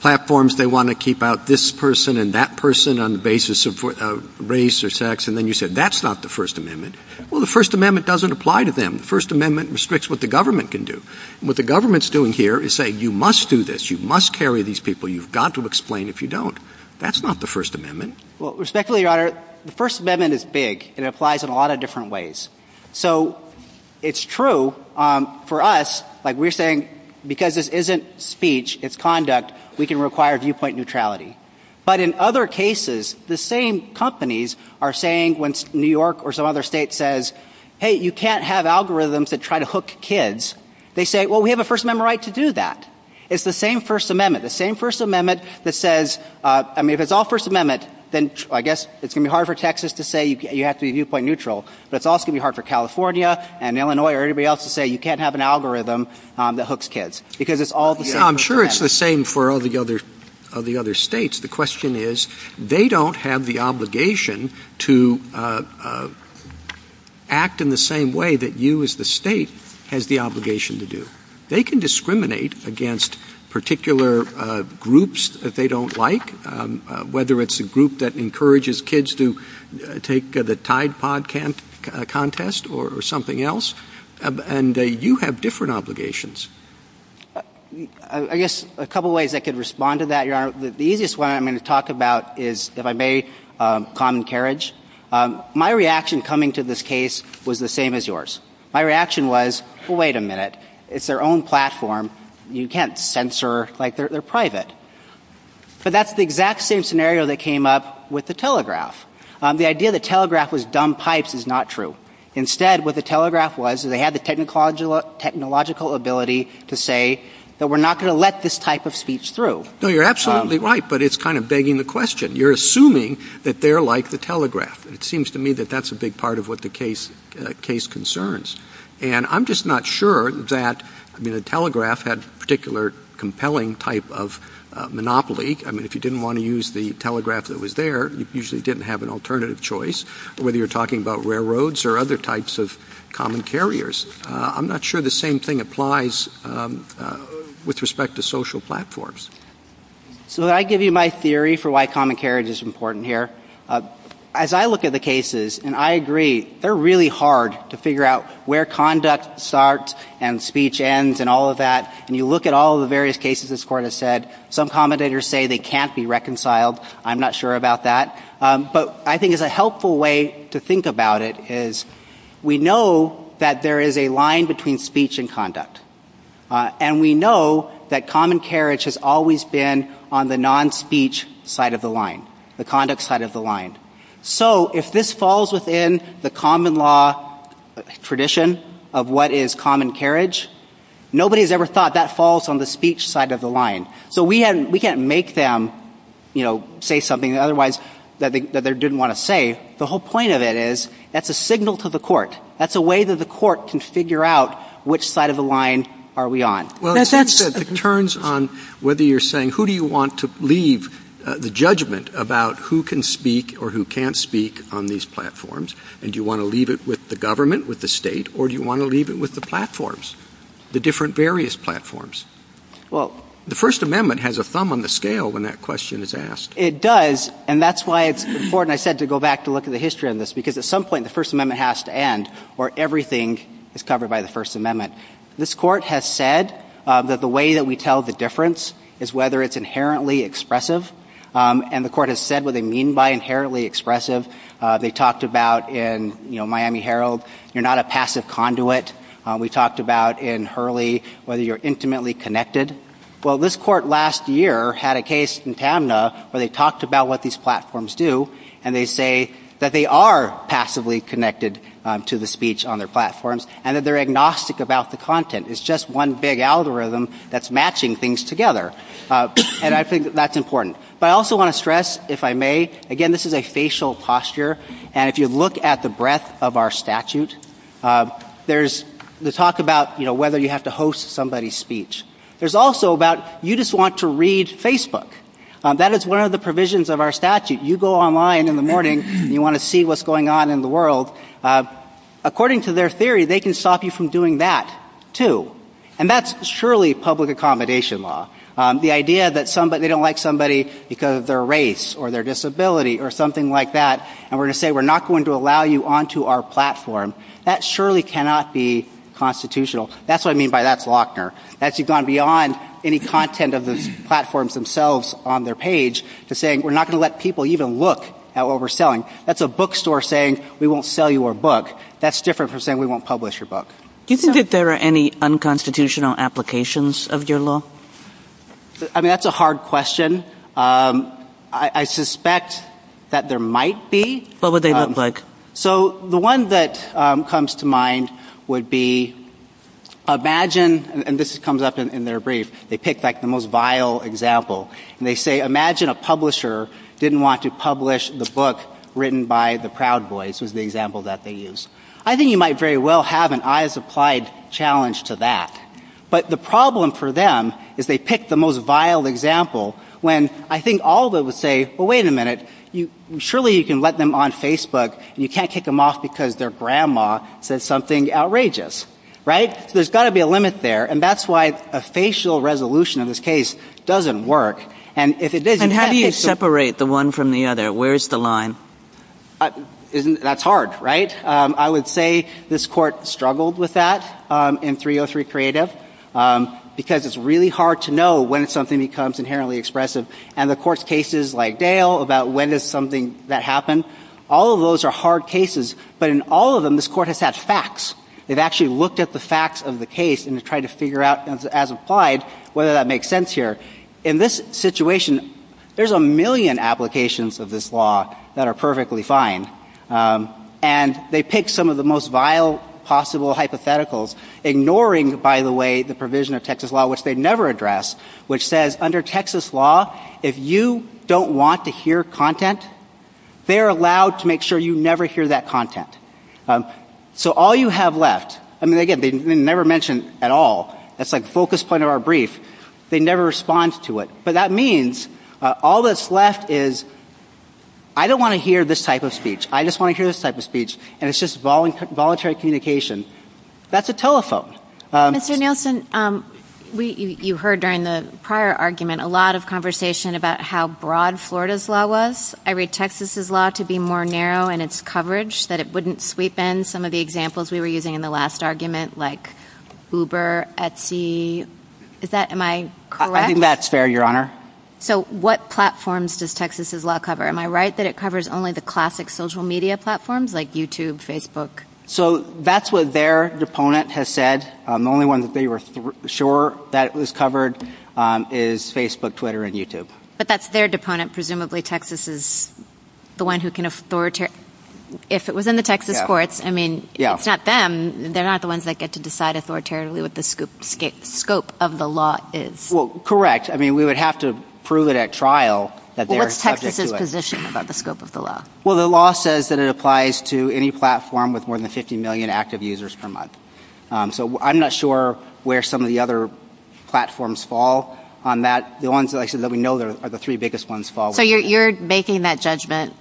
platforms, they want to keep out this person and that person on the basis of race or sex, and then you said that's not the First Amendment. Well, the First Amendment doesn't apply to them. The First Amendment restricts what the government can do. What the government's doing here is saying you must do this, you must carry these people, you've got to explain if you don't. That's not the First Amendment. Well, respectfully, Your Honor, the First Amendment is big. It applies in a lot of different ways. So it's true for us, like we're saying, because this isn't speech, it's conduct, we can require viewpoint neutrality. But in other cases, the same companies are saying when New York or some other state says, hey, you can't have algorithms that try to hook kids, they say, well, we have a First Amendment right to do that. It's the same First Amendment. The same First Amendment that says, I mean, if it's all First Amendment, then I guess it's going to be hard for Texas to say you have to be viewpoint neutral, but it's also going to be hard for California and Illinois or anybody else to say you can't have an algorithm that hooks kids. Because it's all the same. I'm sure it's the same for all the other states. The question is, they don't have the obligation to act in the same way that you as the state has the obligation to do. They can discriminate against particular groups that they don't like, whether it's a group that encourages kids to take the Tide Pod contest or something else. And you have different obligations. I guess a couple of ways I could respond to that, Your Honor. The easiest one I'm going to talk about is, if I may, common carriage. My reaction coming to this case was the same as yours. My reaction was, well, wait a minute. It's their own platform. You can't censor like they're private. But that's the exact same scenario that came up with the Telegraph. The idea the Telegraph was dumb pipes is not true. Instead, what the Telegraph was, they had the technological ability to say that we're not going to let this type of speech through. No, you're absolutely right, but it's kind of begging the question. You're assuming that they're like the Telegraph. It seems to me that that's a big part of what the case concerns. And I'm just not sure that the Telegraph had a particular compelling type of monopoly. I mean, if you didn't want to use the Telegraph that was there, you usually didn't have an alternative choice, whether you're talking about railroads or other types of common carriers. I'm not sure the same thing applies with respect to social platforms. So I give you my theory for why common carriage is important here. As I look at the cases, and I agree, they're really hard to figure out where conduct starts and speech ends and all of that. And you look at all the various cases this court has said. Some commentators say they can't be reconciled. I'm not sure about that. But I think it's a helpful way to think about it is we know that there is a line between speech and conduct. And we know that common carriage has always been on the non-speech side of the line, the conduct side of the line. So if this falls within the common law tradition of what is common carriage, nobody has ever thought that falls on the speech side of the line. So we can't make them say something otherwise that they didn't want to say. The whole point of it is it's a signal to the court. That's a way that the court can figure out which side of the line are we on. It turns on whether you're saying who do you want to leave the judgment about who can speak or who can't speak on these platforms. And do you want to leave it with the government, with the state, or do you want to leave it with the platforms, the different various platforms? Well, the First Amendment has a thumb on the scale when that question is asked. It does. And that's why it's important, I said, to go back to look at the history of this. Because at some point the First Amendment has to end or everything is covered by the First Amendment. This court has said that the way that we tell the difference is whether it's inherently expressive. And the court has said what they mean by inherently expressive. They talked about in Miami Herald, you're not a passive conduit. We talked about in Hurley whether you're intimately connected. Well, this court last year had a case in PAMNA where they talked about what these platforms do. And they say that they are passively connected to the speech on their platforms and that they're agnostic about the content. It's just one big algorithm that's matching things together. And I think that's important. But I also want to stress, if I may, again, this is a facial posture. And if you look at the breadth of our statute, there's the talk about whether you have to host somebody's speech. There's also about you just want to read Facebook. That is one of the provisions of our statute. You go online in the morning and you want to see what's going on in the world. According to their theory, they can stop you from doing that, too. And that's surely public accommodation law. The idea that they don't like somebody because of their race or their disability or something like that, and we're going to say we're not going to allow you onto our platform, that surely cannot be constitutional. That's what I mean by that's Lochner. That's you've gone beyond any content of the platforms themselves on their page to saying we're not going to let people even look at what we're selling. That's a bookstore saying we won't sell you our book. That's different from saying we won't publish your book. Do you think that there are any unconstitutional applications of your law? I mean, that's a hard question. I suspect that there might be. What would they look like? So, the one that comes to mind would be imagine, and this comes up in their brief, they pick the most vile example, and they say imagine a publisher didn't want to publish the book written by the Proud Boys, is the example that they use. I think you might very well have an eyes applied challenge to that. But the problem for them is they pick the most vile example when I think all of them would say, but wait a minute, surely you can let them on Facebook and you can't kick them off because their grandma said something outrageous, right? There's got to be a limit there. And that's why a facial resolution in this case doesn't work. And if it does, you have to separate the one from the other. Where's the line? That's hard, right? I would say this court struggled with that in 303 Creative because it's really hard to know when something becomes inherently expressive. And the court's cases like Dale about when is something that happened, all of those are hard cases. But in all of them, this court has had facts. It actually looked at the facts of the case and tried to figure out as applied whether that makes sense here. In this situation, there's a million applications of this law that are perfectly fine. And they pick some of the most vile possible hypotheticals, ignoring, by the way, the provision of Texas law, which they never address, which says under Texas law, if you don't want to hear content, they're allowed to make sure you never hear that content. So all you have left, I mean, again, they never mention at all. That's the focus point of our brief. They never respond to it. But that means all that's left is I don't want to hear this type of speech. I just want to hear this type of speech. And it's just voluntary communication. That's a telephone. Mr. Nielsen, you heard during the prior argument a lot of conversation about how broad Florida's law was. I read Texas's law to be more narrow in its coverage, that it wouldn't sweep in some of the examples we were using in the last argument, like Uber, Etsy. Is that, am I correct? I think that's fair, Your Honor. So what platforms does Texas's law cover? Am I right that it covers only the classic social media platforms like YouTube, Facebook? So that's what their deponent has said. The only one that they were sure that it was covered is Facebook, Twitter, and YouTube. But that's their deponent. Presumably Texas is the one who can authoritarily, if it was in the Texas courts, I mean, it's not them. They're not the ones that get to decide authoritarily what the scope of the law is. Well, correct. I mean, we would have to prove it at trial that they're subject to it. What's Texas's position about the scope of the law? Well, the law says that it applies to any platform with more than 50 million active users per month. So I'm not sure where some of the other platforms fall on that. The ones that we know are the three biggest ones fall. So you're making that judgment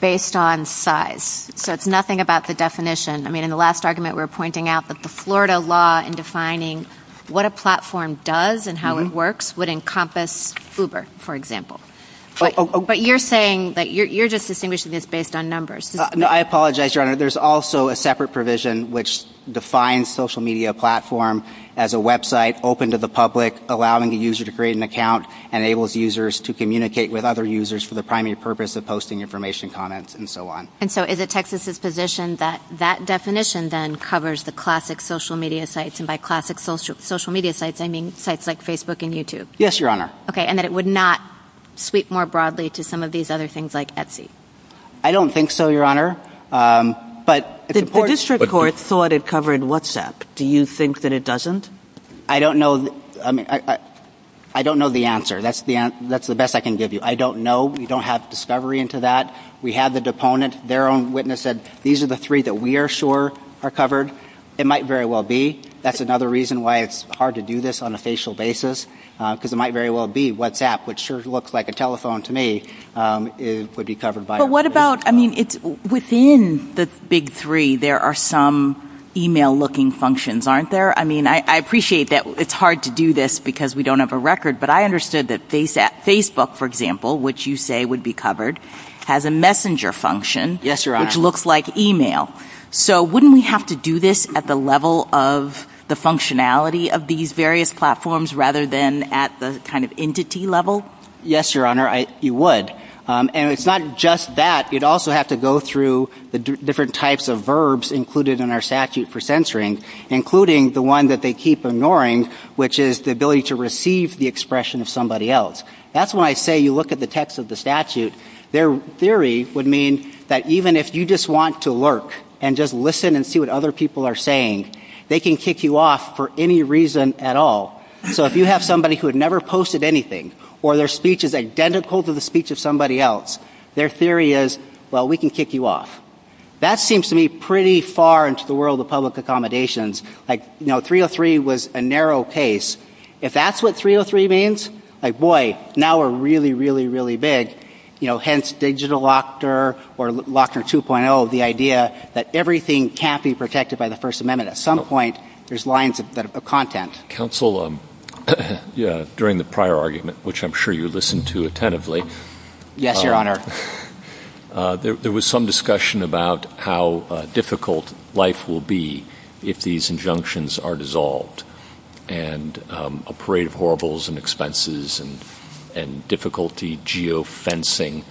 based on size. So it's nothing about the definition. I mean, in the last argument we were pointing out that the Florida law in defining what a platform does and how it works would encompass Uber, for example. But you're saying that you're just distinguishing this based on numbers. No, I apologize, Your Honor. There's also a separate provision which defines social media platform as a website open to the public, allowing the user to create an account, enables users to communicate with other users for the primary purpose of posting information, comments, and so on. And so is it Texas's position that that definition then covers the classic social media sites? And by classic social media sites, I mean sites like Facebook and YouTube. Yes, Your Honor. Okay, and that it would not sweep more broadly to some of these other things like Etsy. I don't think so, Your Honor. The district court thought it covered WhatsApp. Do you think that it doesn't? I don't know the answer. That's the best I can give you. I don't know. We don't have discovery into that. We have the deponent. Their own witness said these are the three that we are sure are covered. It might very well be. That's another reason why it's hard to do this on a facial basis. Because it might very well be WhatsApp, which sure looks like a telephone to me, would be covered by it. But what about, I mean, within the big three, there are some e-mail looking functions, aren't there? I mean, I appreciate that it's hard to do this because we don't have a record. But I understood that Facebook, for example, which you say would be covered, has a messenger function. Yes, Your Honor. Which looks like e-mail. So wouldn't we have to do this at the level of the functionality of these various platforms rather than at the kind of entity level? Yes, Your Honor, you would. And it's not just that. You'd also have to go through the different types of verbs included in our statute for censoring, including the one that they keep ignoring, which is the ability to receive the expression of somebody else. That's why I say you look at the text of the statute. Their theory would mean that even if you just want to lurk and just listen and see what other people are saying, they can kick you off for any reason at all. So if you have somebody who had never posted anything or their speech is identical to the speech of somebody else, their theory is, well, we can kick you off. That seems to me pretty far into the world of public accommodations. Like, you know, 303 was a narrow case. If that's what 303 means, like, boy, now we're really, really, really big. You know, hence digital locker or locker 2.0, the idea that everything can't be protected by the First Amendment. At some point, there's lines of content. Counsel, during the prior argument, which I'm sure you listened to attentively. Yes, Your Honor. There was some discussion about how difficult life will be if these injunctions are dissolved. And a parade of horribles and expenses and difficulty geofencing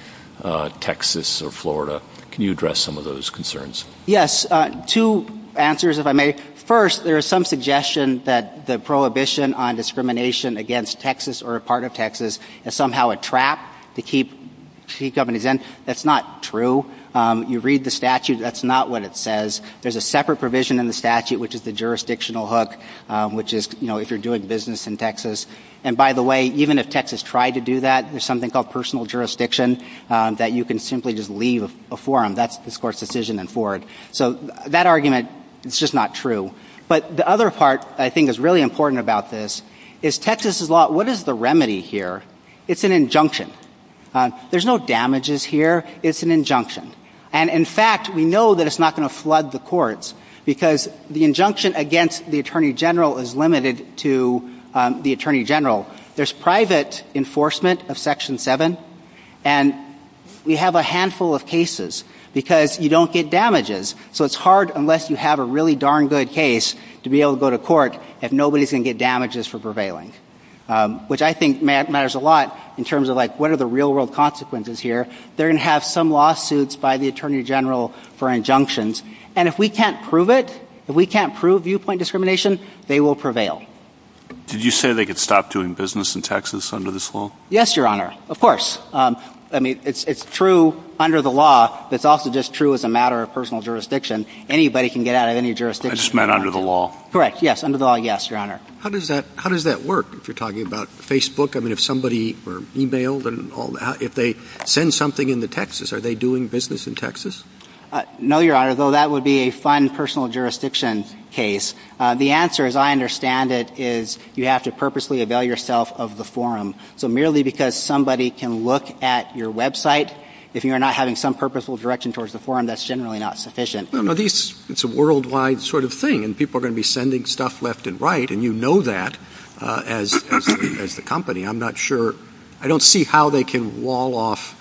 Texas or Florida. Can you address some of those concerns? Yes. Two answers, if I may. First, there is some suggestion that the prohibition on discrimination against Texas or a part of Texas is somehow a trap to keep state governments in. That's not true. You read the statute. That's not what it says. There's a separate provision in the statute, which is the jurisdictional hook, which is, you know, if you're doing business in Texas. And by the way, even if Texas tried to do that, there's something called personal jurisdiction that you can simply just leave a forum. That's the court's decision in Ford. So, that argument is just not true. But the other part I think is really important about this is Texas' law, what is the remedy here? It's an injunction. There's no damages here. It's an injunction. And in fact, we know that it's not going to flood the courts because the injunction against the Attorney General is limited to the Attorney General. There's private enforcement of Section 7. And we have a handful of cases because you don't get damages. So, it's hard, unless you have a really darn good case, to be able to go to court if nobody's going to get damages for prevailing, which I think matters a lot in terms of, like, what are the real-world consequences here? They're going to have some lawsuits by the Attorney General for injunctions. And if we can't prove it, if we can't prove viewpoint discrimination, they will prevail. Did you say they could stop doing business in Texas under this law? Yes, Your Honor. Of course. I mean, it's true under the law. It's also just true as a matter of personal jurisdiction. Anybody can get out of any jurisdiction. I just meant under the law. Correct. Yes, under the law, yes, Your Honor. How does that work, if you're talking about Facebook? I mean, if somebody e-mailed and all that, if they send something into Texas, are they doing business in Texas? No, Your Honor, though that would be a fun personal jurisdiction case. The answer, as I understand it, is you have to purposely avail yourself of the forum. So merely because somebody can look at your website, if you're not having some purposeful direction towards the forum, that's generally not sufficient. It's a worldwide sort of thing, and people are going to be sending stuff left and right, and you know that as the company. I'm not sure. I don't see how they can wall off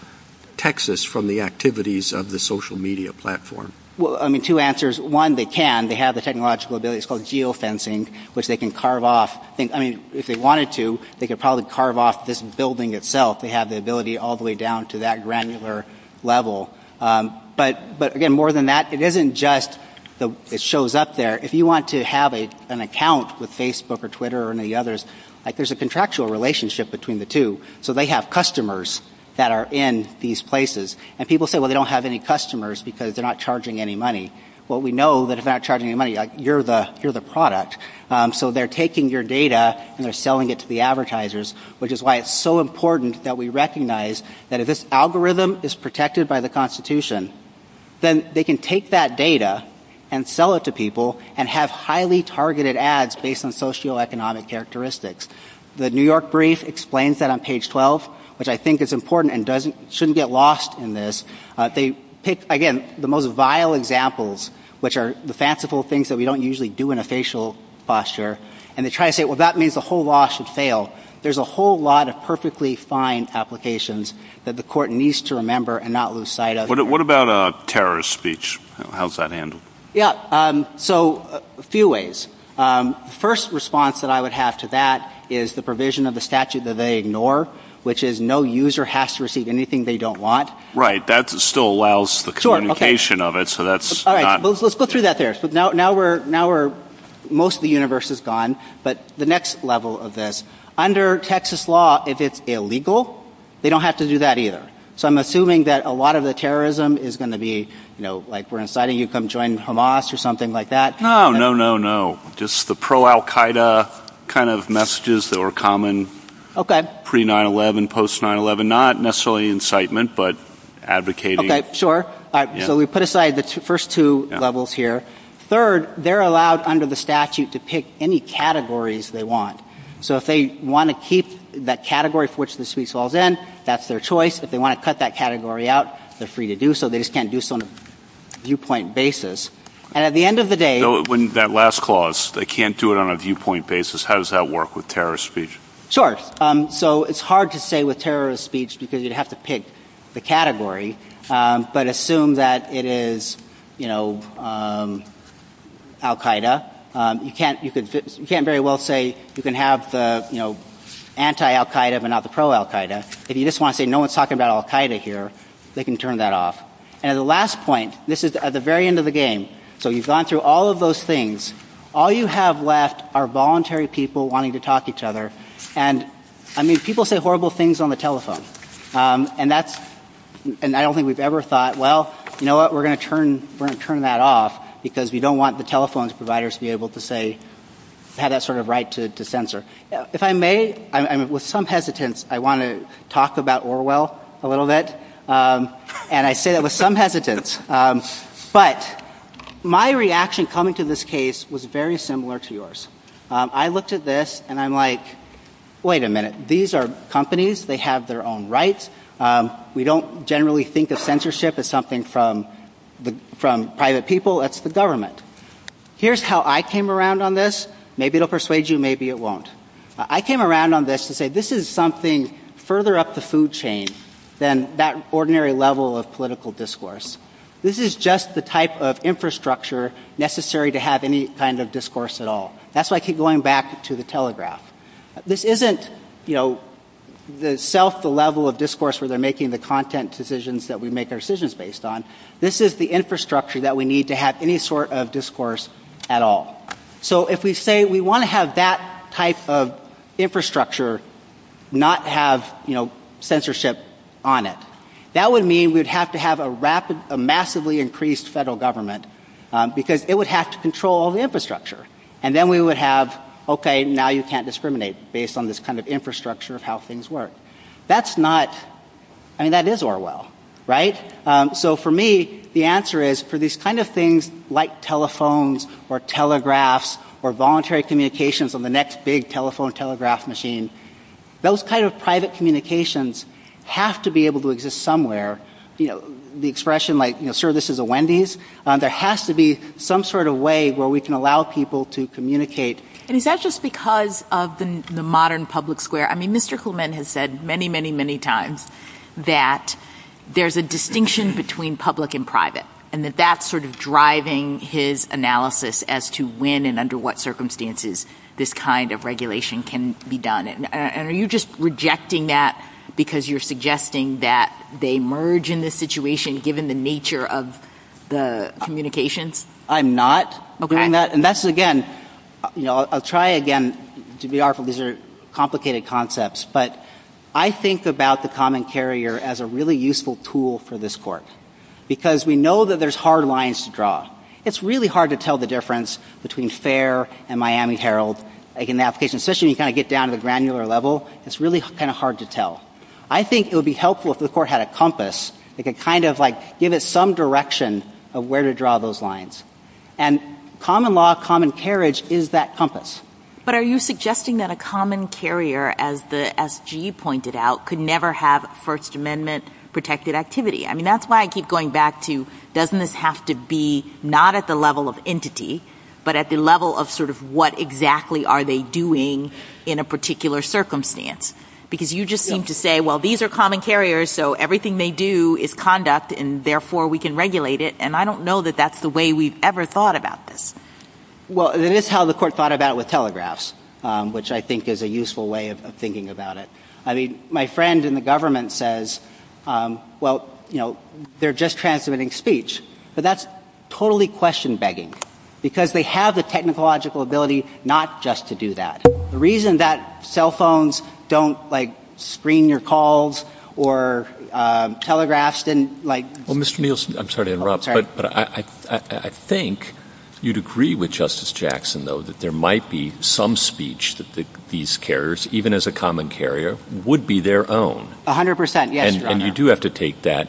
Texas from the activities of the social media platform. Well, I mean, two answers. One, they can. They have the technological ability. It's called geofencing, which they can carve off. I mean, if they wanted to, they could probably carve off this building itself. They have the ability all the way down to that granular level. But again, more than that, it isn't just it shows up there. If you want to have an account with Facebook or Twitter or any of the others, there's a contractual relationship between the two. So they have customers that are in these places. And people say, well, they don't have any customers because they're not charging any money. Well, we know that if they're not charging any money, you're the product. So they're taking your data and they're selling it to the advertisers, which is why it's so important that we recognize that if this algorithm is protected by the Constitution, then they can take that data and sell it to people and have highly targeted ads based on socioeconomic characteristics. The New York Brief explains that on page 12, which I think is important and shouldn't get lost in this. They pick, again, the most vile examples, which are the fanciful things that we don't usually do in a facial posture. And they try to say, well, that means the whole law should fail. There's a whole lot of perfectly fine applications that the court needs to remember and not lose sight of. What about a terrorist speech? How's that handled? Yeah, so a few ways. The first response that I would have to that is the provision of the statute that they ignore, which is no user has to receive anything they don't want. Right. That still allows the communication of it. So that's all right. Let's go through that there. So now we're now we're most of the universe is gone. But the next level of this under Texas law, if it's illegal, they don't have to do that either. So I'm assuming that a lot of the terrorism is going to be, you know, like we're inciting you come join Hamas or something like that. No, no, no, no. Just the pro Al Qaeda kind of messages that were common. Pre 9-11, post 9-11, not necessarily incitement, but advocating. Sure. So we put aside the first two levels here. Third, they're allowed under the statute to pick any categories they want. So if they want to keep that category for which the speech falls in, that's their choice. If they want to cut that category out, they're free to do so. They just can't do some viewpoint basis. And at the end of the day, when that last clause they can't do it on a viewpoint basis. How does that work with terrorist speech? Sure. So it's hard to say with terrorist speech because you'd have to pick the category. But assume that it is, you know, Al Qaeda. You can't very well say you can have, you know, anti Al Qaeda but not the pro Al Qaeda. If you just want to say no one's talking about Al Qaeda here, they can turn that off. And the last point, this is at the very end of the game. So you've gone through all of those things. All you have left are voluntary people wanting to talk to each other. And, I mean, people say horrible things on the telephone. And that's, and I don't think we've ever thought, well, you know what, we're going to turn that off because we don't want the telephone providers to be able to say, have that sort of right to censor. If I may, with some hesitance, I want to talk about Orwell a little bit. And I say that with some hesitance. But my reaction coming to this case was very similar to yours. I looked at this and I'm like, wait a minute. These are companies. They have their own rights. We don't generally think of censorship as something from private people. It's the government. Here's how I came around on this. Maybe it will persuade you. Maybe it won't. I came around on this to say this is something further up the food chain than that ordinary level of political discourse. This is just the type of infrastructure necessary to have any kind of discourse at all. That's why I keep going back to the telegraph. This isn't, you know, the self-level of discourse where they're making the content decisions that we make our decisions based on. This is the infrastructure that we need to have any sort of discourse at all. So, if we say we want to have that type of infrastructure not have, you know, censorship on it, that would mean we'd have to have a massively increased federal government because it would have to control all the infrastructure. And then we would have, okay, now you can't discriminate based on this kind of infrastructure of how things work. That's not, I mean, that is Orwell, right? So, for me, the answer is for these kind of things like telephones or telegraphs or voluntary communications on the next big telephone telegraph machine, those kind of private communications have to be able to exist somewhere. You know, the expression like, you know, sir, this is a Wendy's. There has to be some sort of way where we can allow people to communicate. And is that just because of the modern public square? I mean, Mr. Kuhlman has said many, many, many times that there's a distinction between public and private and that that's sort of driving his analysis as to when and under what circumstances this kind of regulation can be done. And are you just rejecting that because you're suggesting that they merge in this situation given the nature of the communications? I'm not. Okay, and that's, again, you know, I'll try again to be artful. These are complicated concepts. But I think about the common carrier as a really useful tool for this court because we know that there's hard lines to draw. It's really hard to tell the difference between Fair and Miami Herald. In the application system, you kind of get down to a granular level. It's really kind of hard to tell. I think it would be helpful if the court had a compass that could kind of like give it some direction of where to draw those lines. And common law, common carriage is that compass. But are you suggesting that a common carrier, as G pointed out, could never have First Amendment-protected activity? I mean, that's why I keep going back to doesn't this have to be not at the level of entity but at the level of sort of what exactly are they doing in a particular circumstance because you just seem to say, well, these are common carriers, so everything they do is conduct, and therefore we can regulate it. And I don't know that that's the way we've ever thought about this. Well, it is how the court thought about it with telegraphs, which I think is a useful way of thinking about it. I mean, my friend in the government says, well, you know, they're just transmitting speech. But that's totally question-begging because they have the technological ability not just to do that. The reason that cell phones don't, like, screen your calls or telegraphs didn't, like— Well, Mr. Nielsen, I'm sorry to interrupt, but I think you'd agree with Justice Jackson, though, that there might be some speech that these carriers, even as a common carrier, would be their own. A hundred percent, yes. And you do have to take that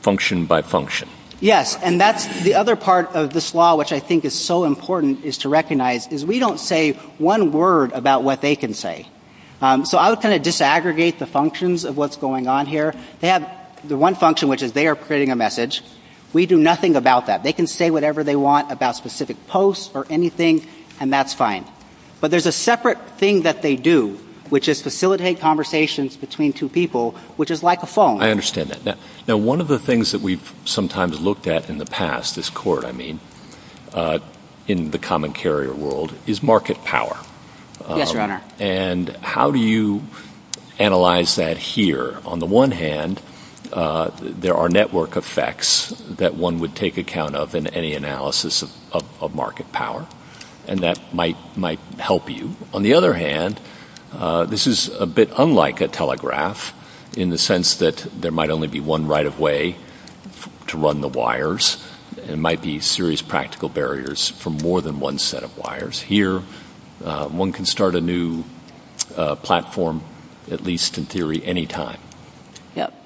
function by function. Yes, and that's the other part of this law which I think is so important is to recognize is we don't say one word about what they can say. So I would kind of disaggregate the functions of what's going on here. They have the one function, which is they are creating a message. We do nothing about that. They can say whatever they want about specific posts or anything, and that's fine. But there's a separate thing that they do, which is facilitate conversations between two people, which is like a phone. I understand that. Now, one of the things that we've sometimes looked at in the past as court, I mean, in the common carrier world, is market power. Yes, Your Honor. And how do you analyze that here? On the one hand, there are network effects that one would take account of in any analysis of market power, and that might help you. On the other hand, this is a bit unlike a telegraph in the sense that there might only be one right-of-way to run the wires. There might be serious practical barriers for more than one set of wires. One can start a new platform, at least in theory, any time.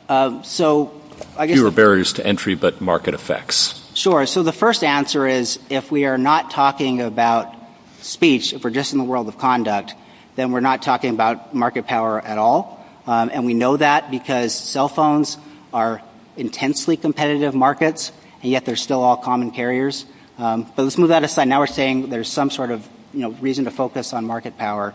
Fewer barriers to entry, but market effects. Sure. So the first answer is if we are not talking about speech, if we're just in the world of conduct, then we're not talking about market power at all. And we know that because cell phones are intensely competitive markets, and yet they're still all common carriers. But let's move that aside. And now we're saying there's some sort of reason to focus on market power.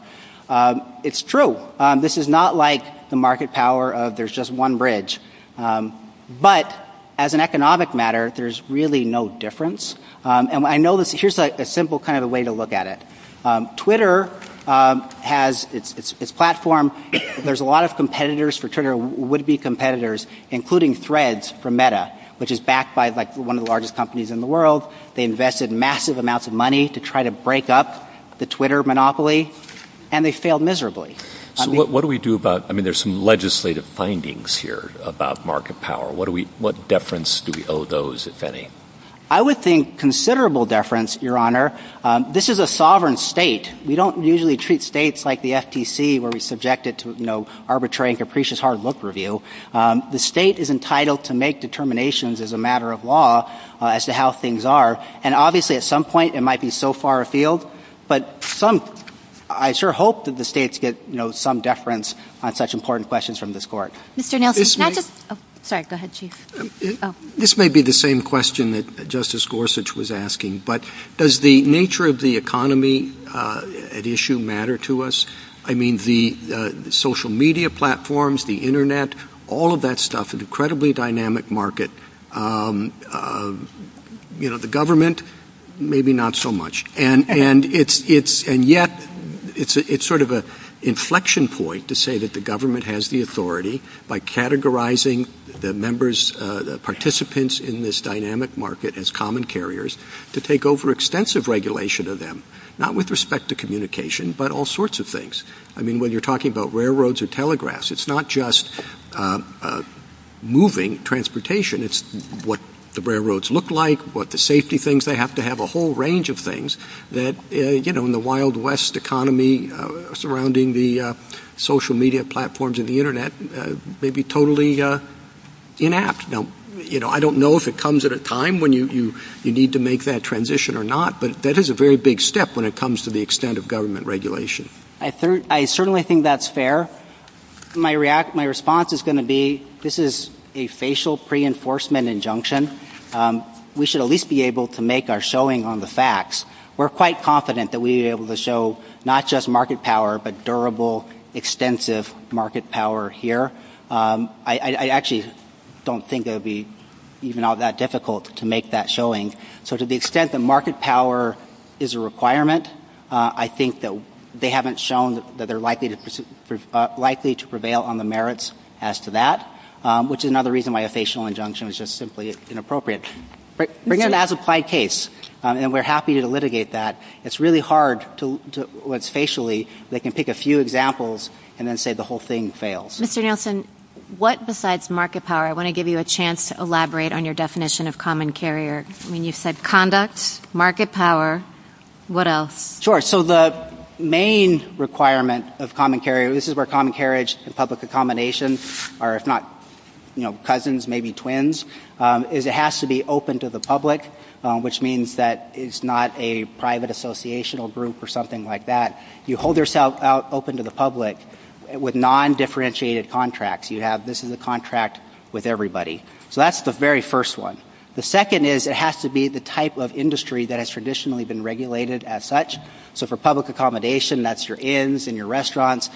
It's true. This is not like the market power of there's just one bridge. But as an economic matter, there's really no difference. And I know this. Here's a simple kind of way to look at it. Twitter has its platform. There's a lot of competitors for Twitter, would-be competitors, including Threads for Meta, which is backed by one of the largest companies in the world. They invested massive amounts of money to try to break up the Twitter monopoly, and they failed miserably. So what do we do about, I mean, there's some legislative findings here about market power. What deference do we owe those, if any? I would think considerable deference, Your Honor. This is a sovereign state. We don't usually treat states like the FTC, where we subject it to, you know, arbitrary and capricious hard book review. The state is entitled to make determinations as a matter of law as to how things are. And obviously, at some point, it might be so far afield. But I sure hope that the states get, you know, some deference on such important questions from this Court. Mr. Nielsen, can I just – sorry, go ahead, Chief. This may be the same question that Justice Gorsuch was asking, but does the nature of the economy at issue matter to us? I mean, the social media platforms, the Internet, all of that stuff, an incredibly dynamic market. You know, the government, maybe not so much. And yet it's sort of an inflection point to say that the government has the authority by categorizing the members, the participants in this dynamic market as common carriers to take over extensive regulation of them, not with respect to communication, but all sorts of things. I mean, when you're talking about railroads or telegraphs, it's not just moving transportation. It's what the railroads look like, what the safety things. They have to have a whole range of things that, you know, in the Wild West economy surrounding the social media platforms and the Internet, may be totally inept. Now, you know, I don't know if it comes at a time when you need to make that transition or not, but that is a very big step when it comes to the extent of government regulation. I certainly think that's fair. My response is going to be, this is a facial pre-enforcement injunction. We should at least be able to make our showing on the facts. We're quite confident that we'll be able to show not just market power, but durable, extensive market power here. I actually don't think it'll be even all that difficult to make that showing. So to the extent that market power is a requirement, I think that they haven't shown that they're likely to prevail on the merits as to that, which is another reason why a facial injunction is just simply inappropriate. But again, that's applied case, and we're happy to litigate that. It's really hard to, what's facially, they can pick a few examples and then say the whole thing fails. Mr. Nielsen, what besides market power? I want to give you a chance to elaborate on your definition of common carrier. When you said conduct, market power, what else? Sure. So the main requirement of common carrier, this is where common carriage and public accommodations are, if not cousins, maybe twins, is it has to be open to the public, which means that it's not a private associational group or something like that. You hold yourself out open to the public with non-differentiated contracts. You have business contract with everybody. So that's the very first one. The second is it has to be the type of industry that has traditionally been regulated as such. So for public accommodation, that's your inns and your restaurants.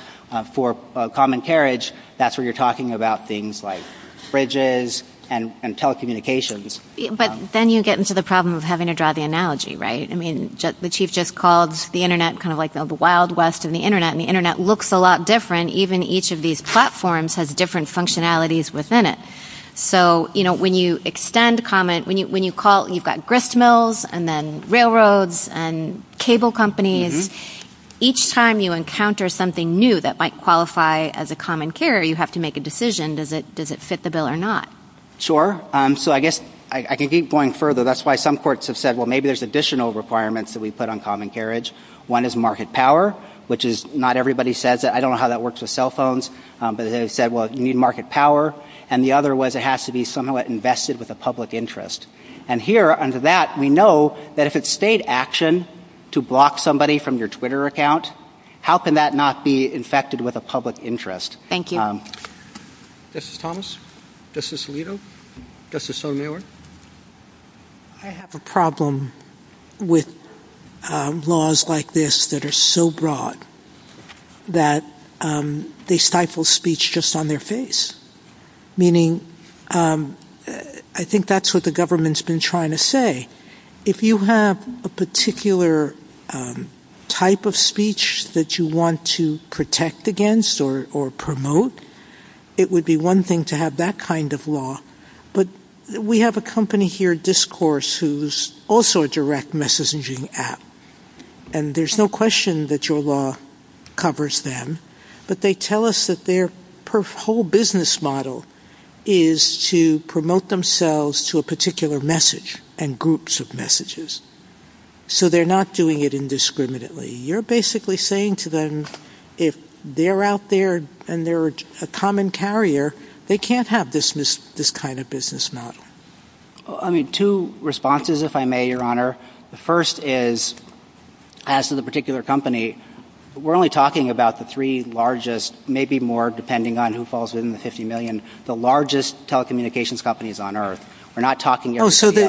For common carriage, that's where you're talking about things like fridges and telecommunications. But then you get into the problem of having to draw the analogy, right? I mean, the chief just called the Internet kind of like the Wild West and the Internet, and the Internet looks a lot different. And even each of these platforms has different functionalities within it. So when you call, you've got gristmills and then railroads and cable companies. Each time you encounter something new that might qualify as a common carrier, you have to make a decision. Does it fit the bill or not? Sure. So I guess I could keep going further. That's why some courts have said, well, maybe there's additional requirements that we put on common carriage. One is market power, which is not everybody says that. I don't know how that works with cell phones. But they said, well, you need market power. And the other was it has to be somewhat invested with a public interest. And here under that, we know that if it's state action to block somebody from your Twitter account, how can that not be infected with a public interest? Thank you. This is Thomas. This is Lito. This is Sue Miller. I have a problem with laws like this that are so broad that they stifle speech just on their face, meaning I think that's what the government's been trying to say. If you have a particular type of speech that you want to protect against or promote, it would be one thing to have that kind of law. But we have a company here, Discourse, who's also a direct messaging app. And there's no question that your law covers them. But they tell us that their whole business model is to promote themselves to a particular message and groups of messages. So they're not doing it indiscriminately. You're basically saying to them, if they're out there and they're a common carrier, they can't have this kind of business model. I mean, two responses, if I may, Your Honor. The first is, as to the particular company, we're only talking about the three largest, maybe more depending on who falls within the 50 million, the largest telecommunications companies on earth. We're not talking everybody else. Okay.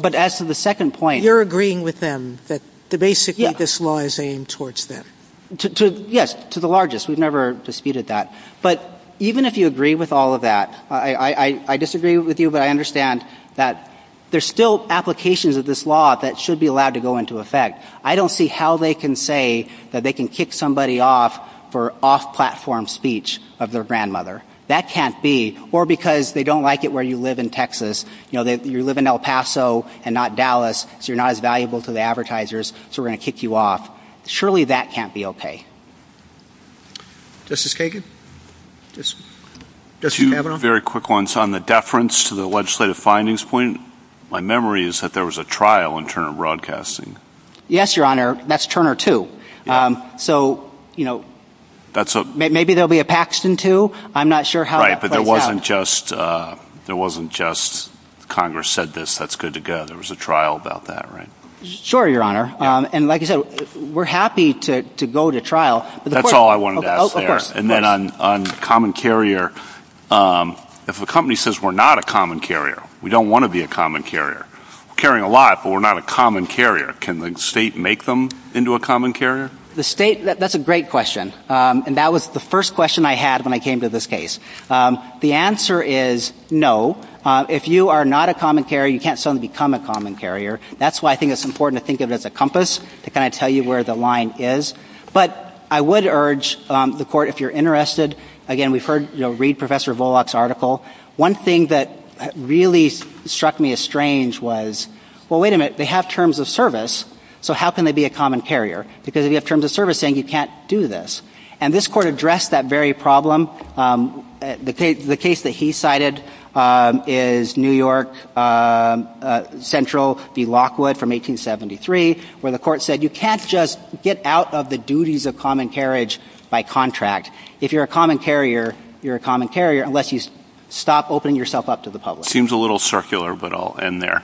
But as to the second point. You're agreeing with them that basically this law is aimed towards them. Yes, to the largest. We've never disputed that. But even if you agree with all of that, I disagree with you, but I understand that there's still applications of this law that should be allowed to go into effect. I don't see how they can say that they can kick somebody off for off-platform speech of their grandmother. That can't be. Or because they don't like it where you live in Texas. You know, you live in El Paso and not Dallas, so you're not as valuable to the advertisers, so we're going to kick you off. Surely that can't be okay. Justice Kagan? Just a very quick one. So on the deference to the legislative findings point, my memory is that there was a trial in Turner Broadcasting. Yes, Your Honor. That's Turner, too. So, you know, maybe there'll be a Paxton, too. I'm not sure how. Right, but there wasn't just Congress said this, that's good to go. There was a trial about that, right? Sure, Your Honor. And like you said, we're happy to go to trial. That's all I wanted to ask there. And then on common carrier, if a company says we're not a common carrier, we don't want to be a common carrier. We're carrying a lot, but we're not a common carrier. Can the state make them into a common carrier? The state, that's a great question. And that was the first question I had when I came to this case. The answer is no. If you are not a common carrier, you can't suddenly become a common carrier. That's why I think it's important to think of it as a compass to kind of tell you where the line is. But I would urge the court, if you're interested, again, we've heard, you know, read Professor Volokh's article. One thing that really struck me as strange was, well, wait a minute, they have terms of service. So how can they be a common carrier? Because if you have terms of service saying you can't do this. And this court addressed that very problem. The case that he cited is New York Central v. Lockwood from 1873, where the court said you can't just get out of the duties of common carriage by contract. If you're a common carrier, you're a common carrier unless you stop opening yourself up to the public. Seems a little circular, but I'll end there.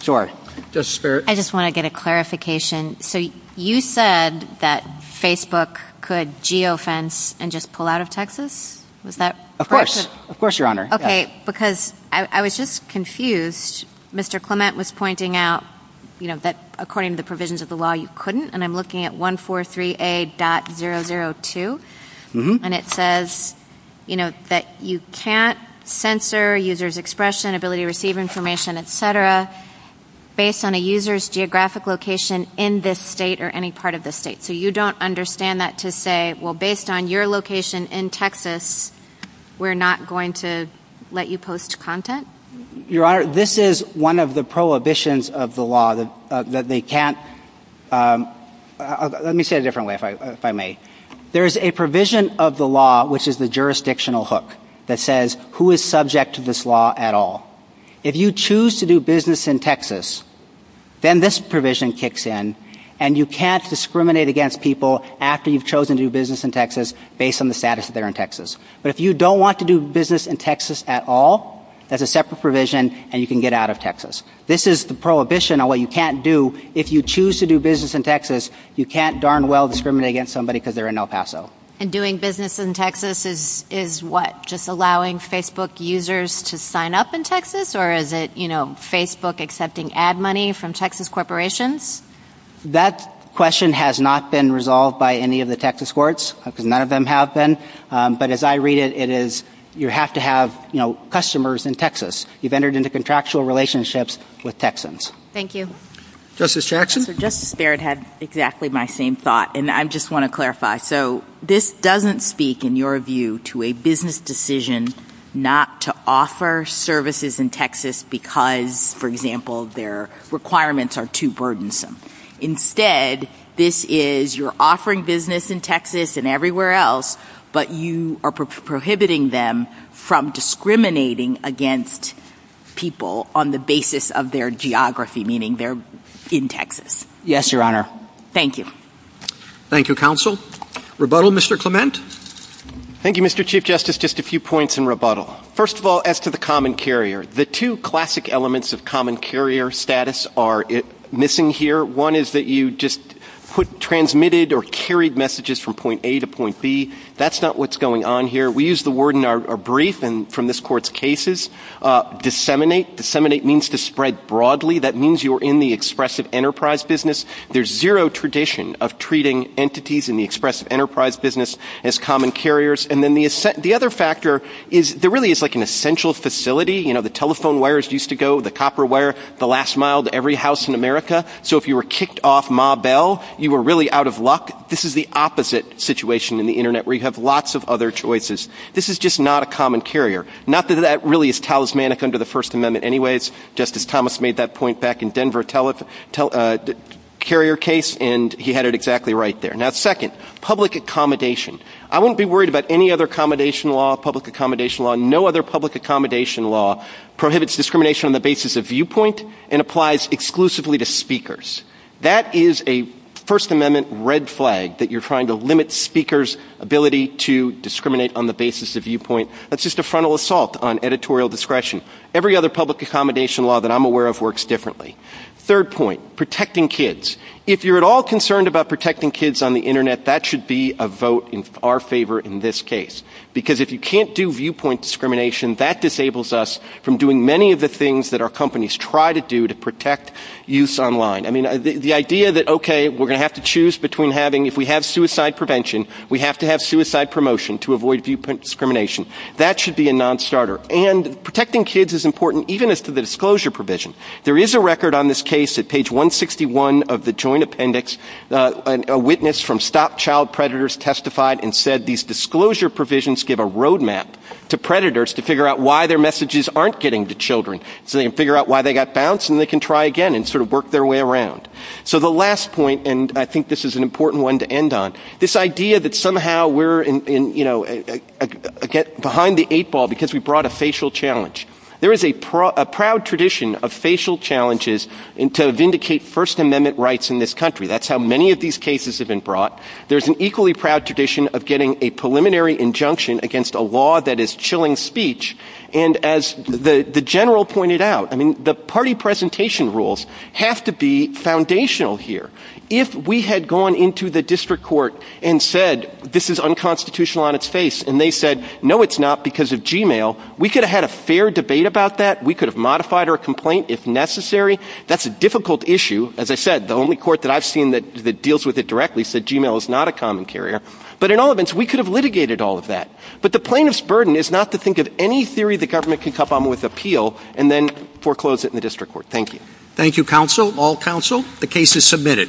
Sorry. I just want to get a clarification. So you said that Facebook could geofence and just pull out of Texas? Of course. Of course, Your Honor. Okay. Because I was just confused. Mr. Clement was pointing out, you know, that according to the provisions of the law, you couldn't. And I'm looking at 143A.002. And it says, you know, that you can't censor users' expression, ability to receive information, etc. based on a user's geographic location in this state or any part of the state. So you don't understand that to say, well, based on your location in Texas, we're not going to let you post content? Your Honor, this is one of the prohibitions of the law that they can't. Let me say it differently, if I may. There is a provision of the law, which is the jurisdictional hook, that says who is subject to this law at all. If you choose to do business in Texas, then this provision kicks in. And you can't discriminate against people after you've chosen to do business in Texas based on the status that they're in Texas. But if you don't want to do business in Texas at all, there's a separate provision and you can get out of Texas. This is the prohibition on what you can't do. If you choose to do business in Texas, you can't darn well discriminate against somebody because they're in El Paso. And doing business in Texas is what? Just allowing Facebook users to sign up in Texas? Or is it, you know, Facebook accepting ad money from Texas corporations? That question has not been resolved by any of the Texas courts. None of them have been. But as I read it, it is you have to have, you know, customers in Texas. You've entered into contractual relationships with Texans. Thank you. Justice Jackson? Justice Barrett had exactly my same thought. And I just want to clarify. So this doesn't speak, in your view, to a business decision not to offer services in Texas because, for example, their requirements are too burdensome. Instead, this is you're offering business in Texas and everywhere else, but you are prohibiting them from discriminating against people on the basis of their geography, meaning they're in Texas. Yes, Your Honor. Thank you. Thank you, Counsel. Rebuttal, Mr. Clement? Thank you, Mr. Chief Justice. Just a few points in rebuttal. First of all, as to the common carrier, the two classic elements of common carrier status are missing here. One is that you just put transmitted or carried messages from point A to point B. That's not what's going on here. We use the word in our brief and from this Court's cases, disseminate. Disseminate means to spread broadly. That means you're in the expressive enterprise business. There's zero tradition of treating entities in the expressive enterprise business as common carriers. And then the other factor is there really is like an essential facility. You know, the telephone wires used to go, the copper wire, the last mile to every house in America. So if you were kicked off Ma Bell, you were really out of luck. This is the opposite situation in the Internet where you have lots of other choices. This is just not a common carrier. Not that that really is talismanic under the First Amendment anyway. Justice Thomas made that point back in Denver carrier case, and he had it exactly right there. Now second, public accommodation. I wouldn't be worried about any other accommodation law, public accommodation law. No other public accommodation law prohibits discrimination on the basis of viewpoint and applies exclusively to speakers. That is a First Amendment red flag that you're trying to limit speakers' ability to discriminate on the basis of viewpoint. That's just a frontal assault on editorial discretion. Every other public accommodation law that I'm aware of works differently. Third point, protecting kids. If you're at all concerned about protecting kids on the Internet, that should be a vote in our favor in this case. Because if you can't do viewpoint discrimination, that disables us from doing many of the things that our companies try to do to protect youths online. I mean, the idea that, okay, we're going to have to choose between having, if we have suicide prevention, we have to have suicide promotion to avoid viewpoint discrimination. That should be a non-starter. And protecting kids is important even as to the disclosure provision. There is a record on this case at page 161 of the Joint Appendix. A witness from Stop Child Predators testified and said these disclosure provisions give a roadmap to predators to figure out why their messages aren't getting to children. So they can figure out why they got bounced and they can try again and sort of work their way around. So the last point, and I think this is an important one to end on, this idea that somehow we're behind the eight ball because we brought a facial challenge. There is a proud tradition of facial challenges to vindicate First Amendment rights in this country. That's how many of these cases have been brought. There's an equally proud tradition of getting a preliminary injunction against a law that is chilling speech. And as the General pointed out, the party presentation rules have to be foundational here. If we had gone into the district court and said this is unconstitutional on its face, and they said no it's not because of Gmail, we could have had a fair debate about that. We could have modified our complaint if necessary. That's a difficult issue. As I said, the only court that I've seen that deals with it directly said Gmail is not a common carrier. But in all events, we could have litigated all of that. But the plaintiff's burden is not to think of any theory the government can come up with appeal and then foreclose it in the district court. Thank you. Thank you, counsel, all counsel. The case is submitted.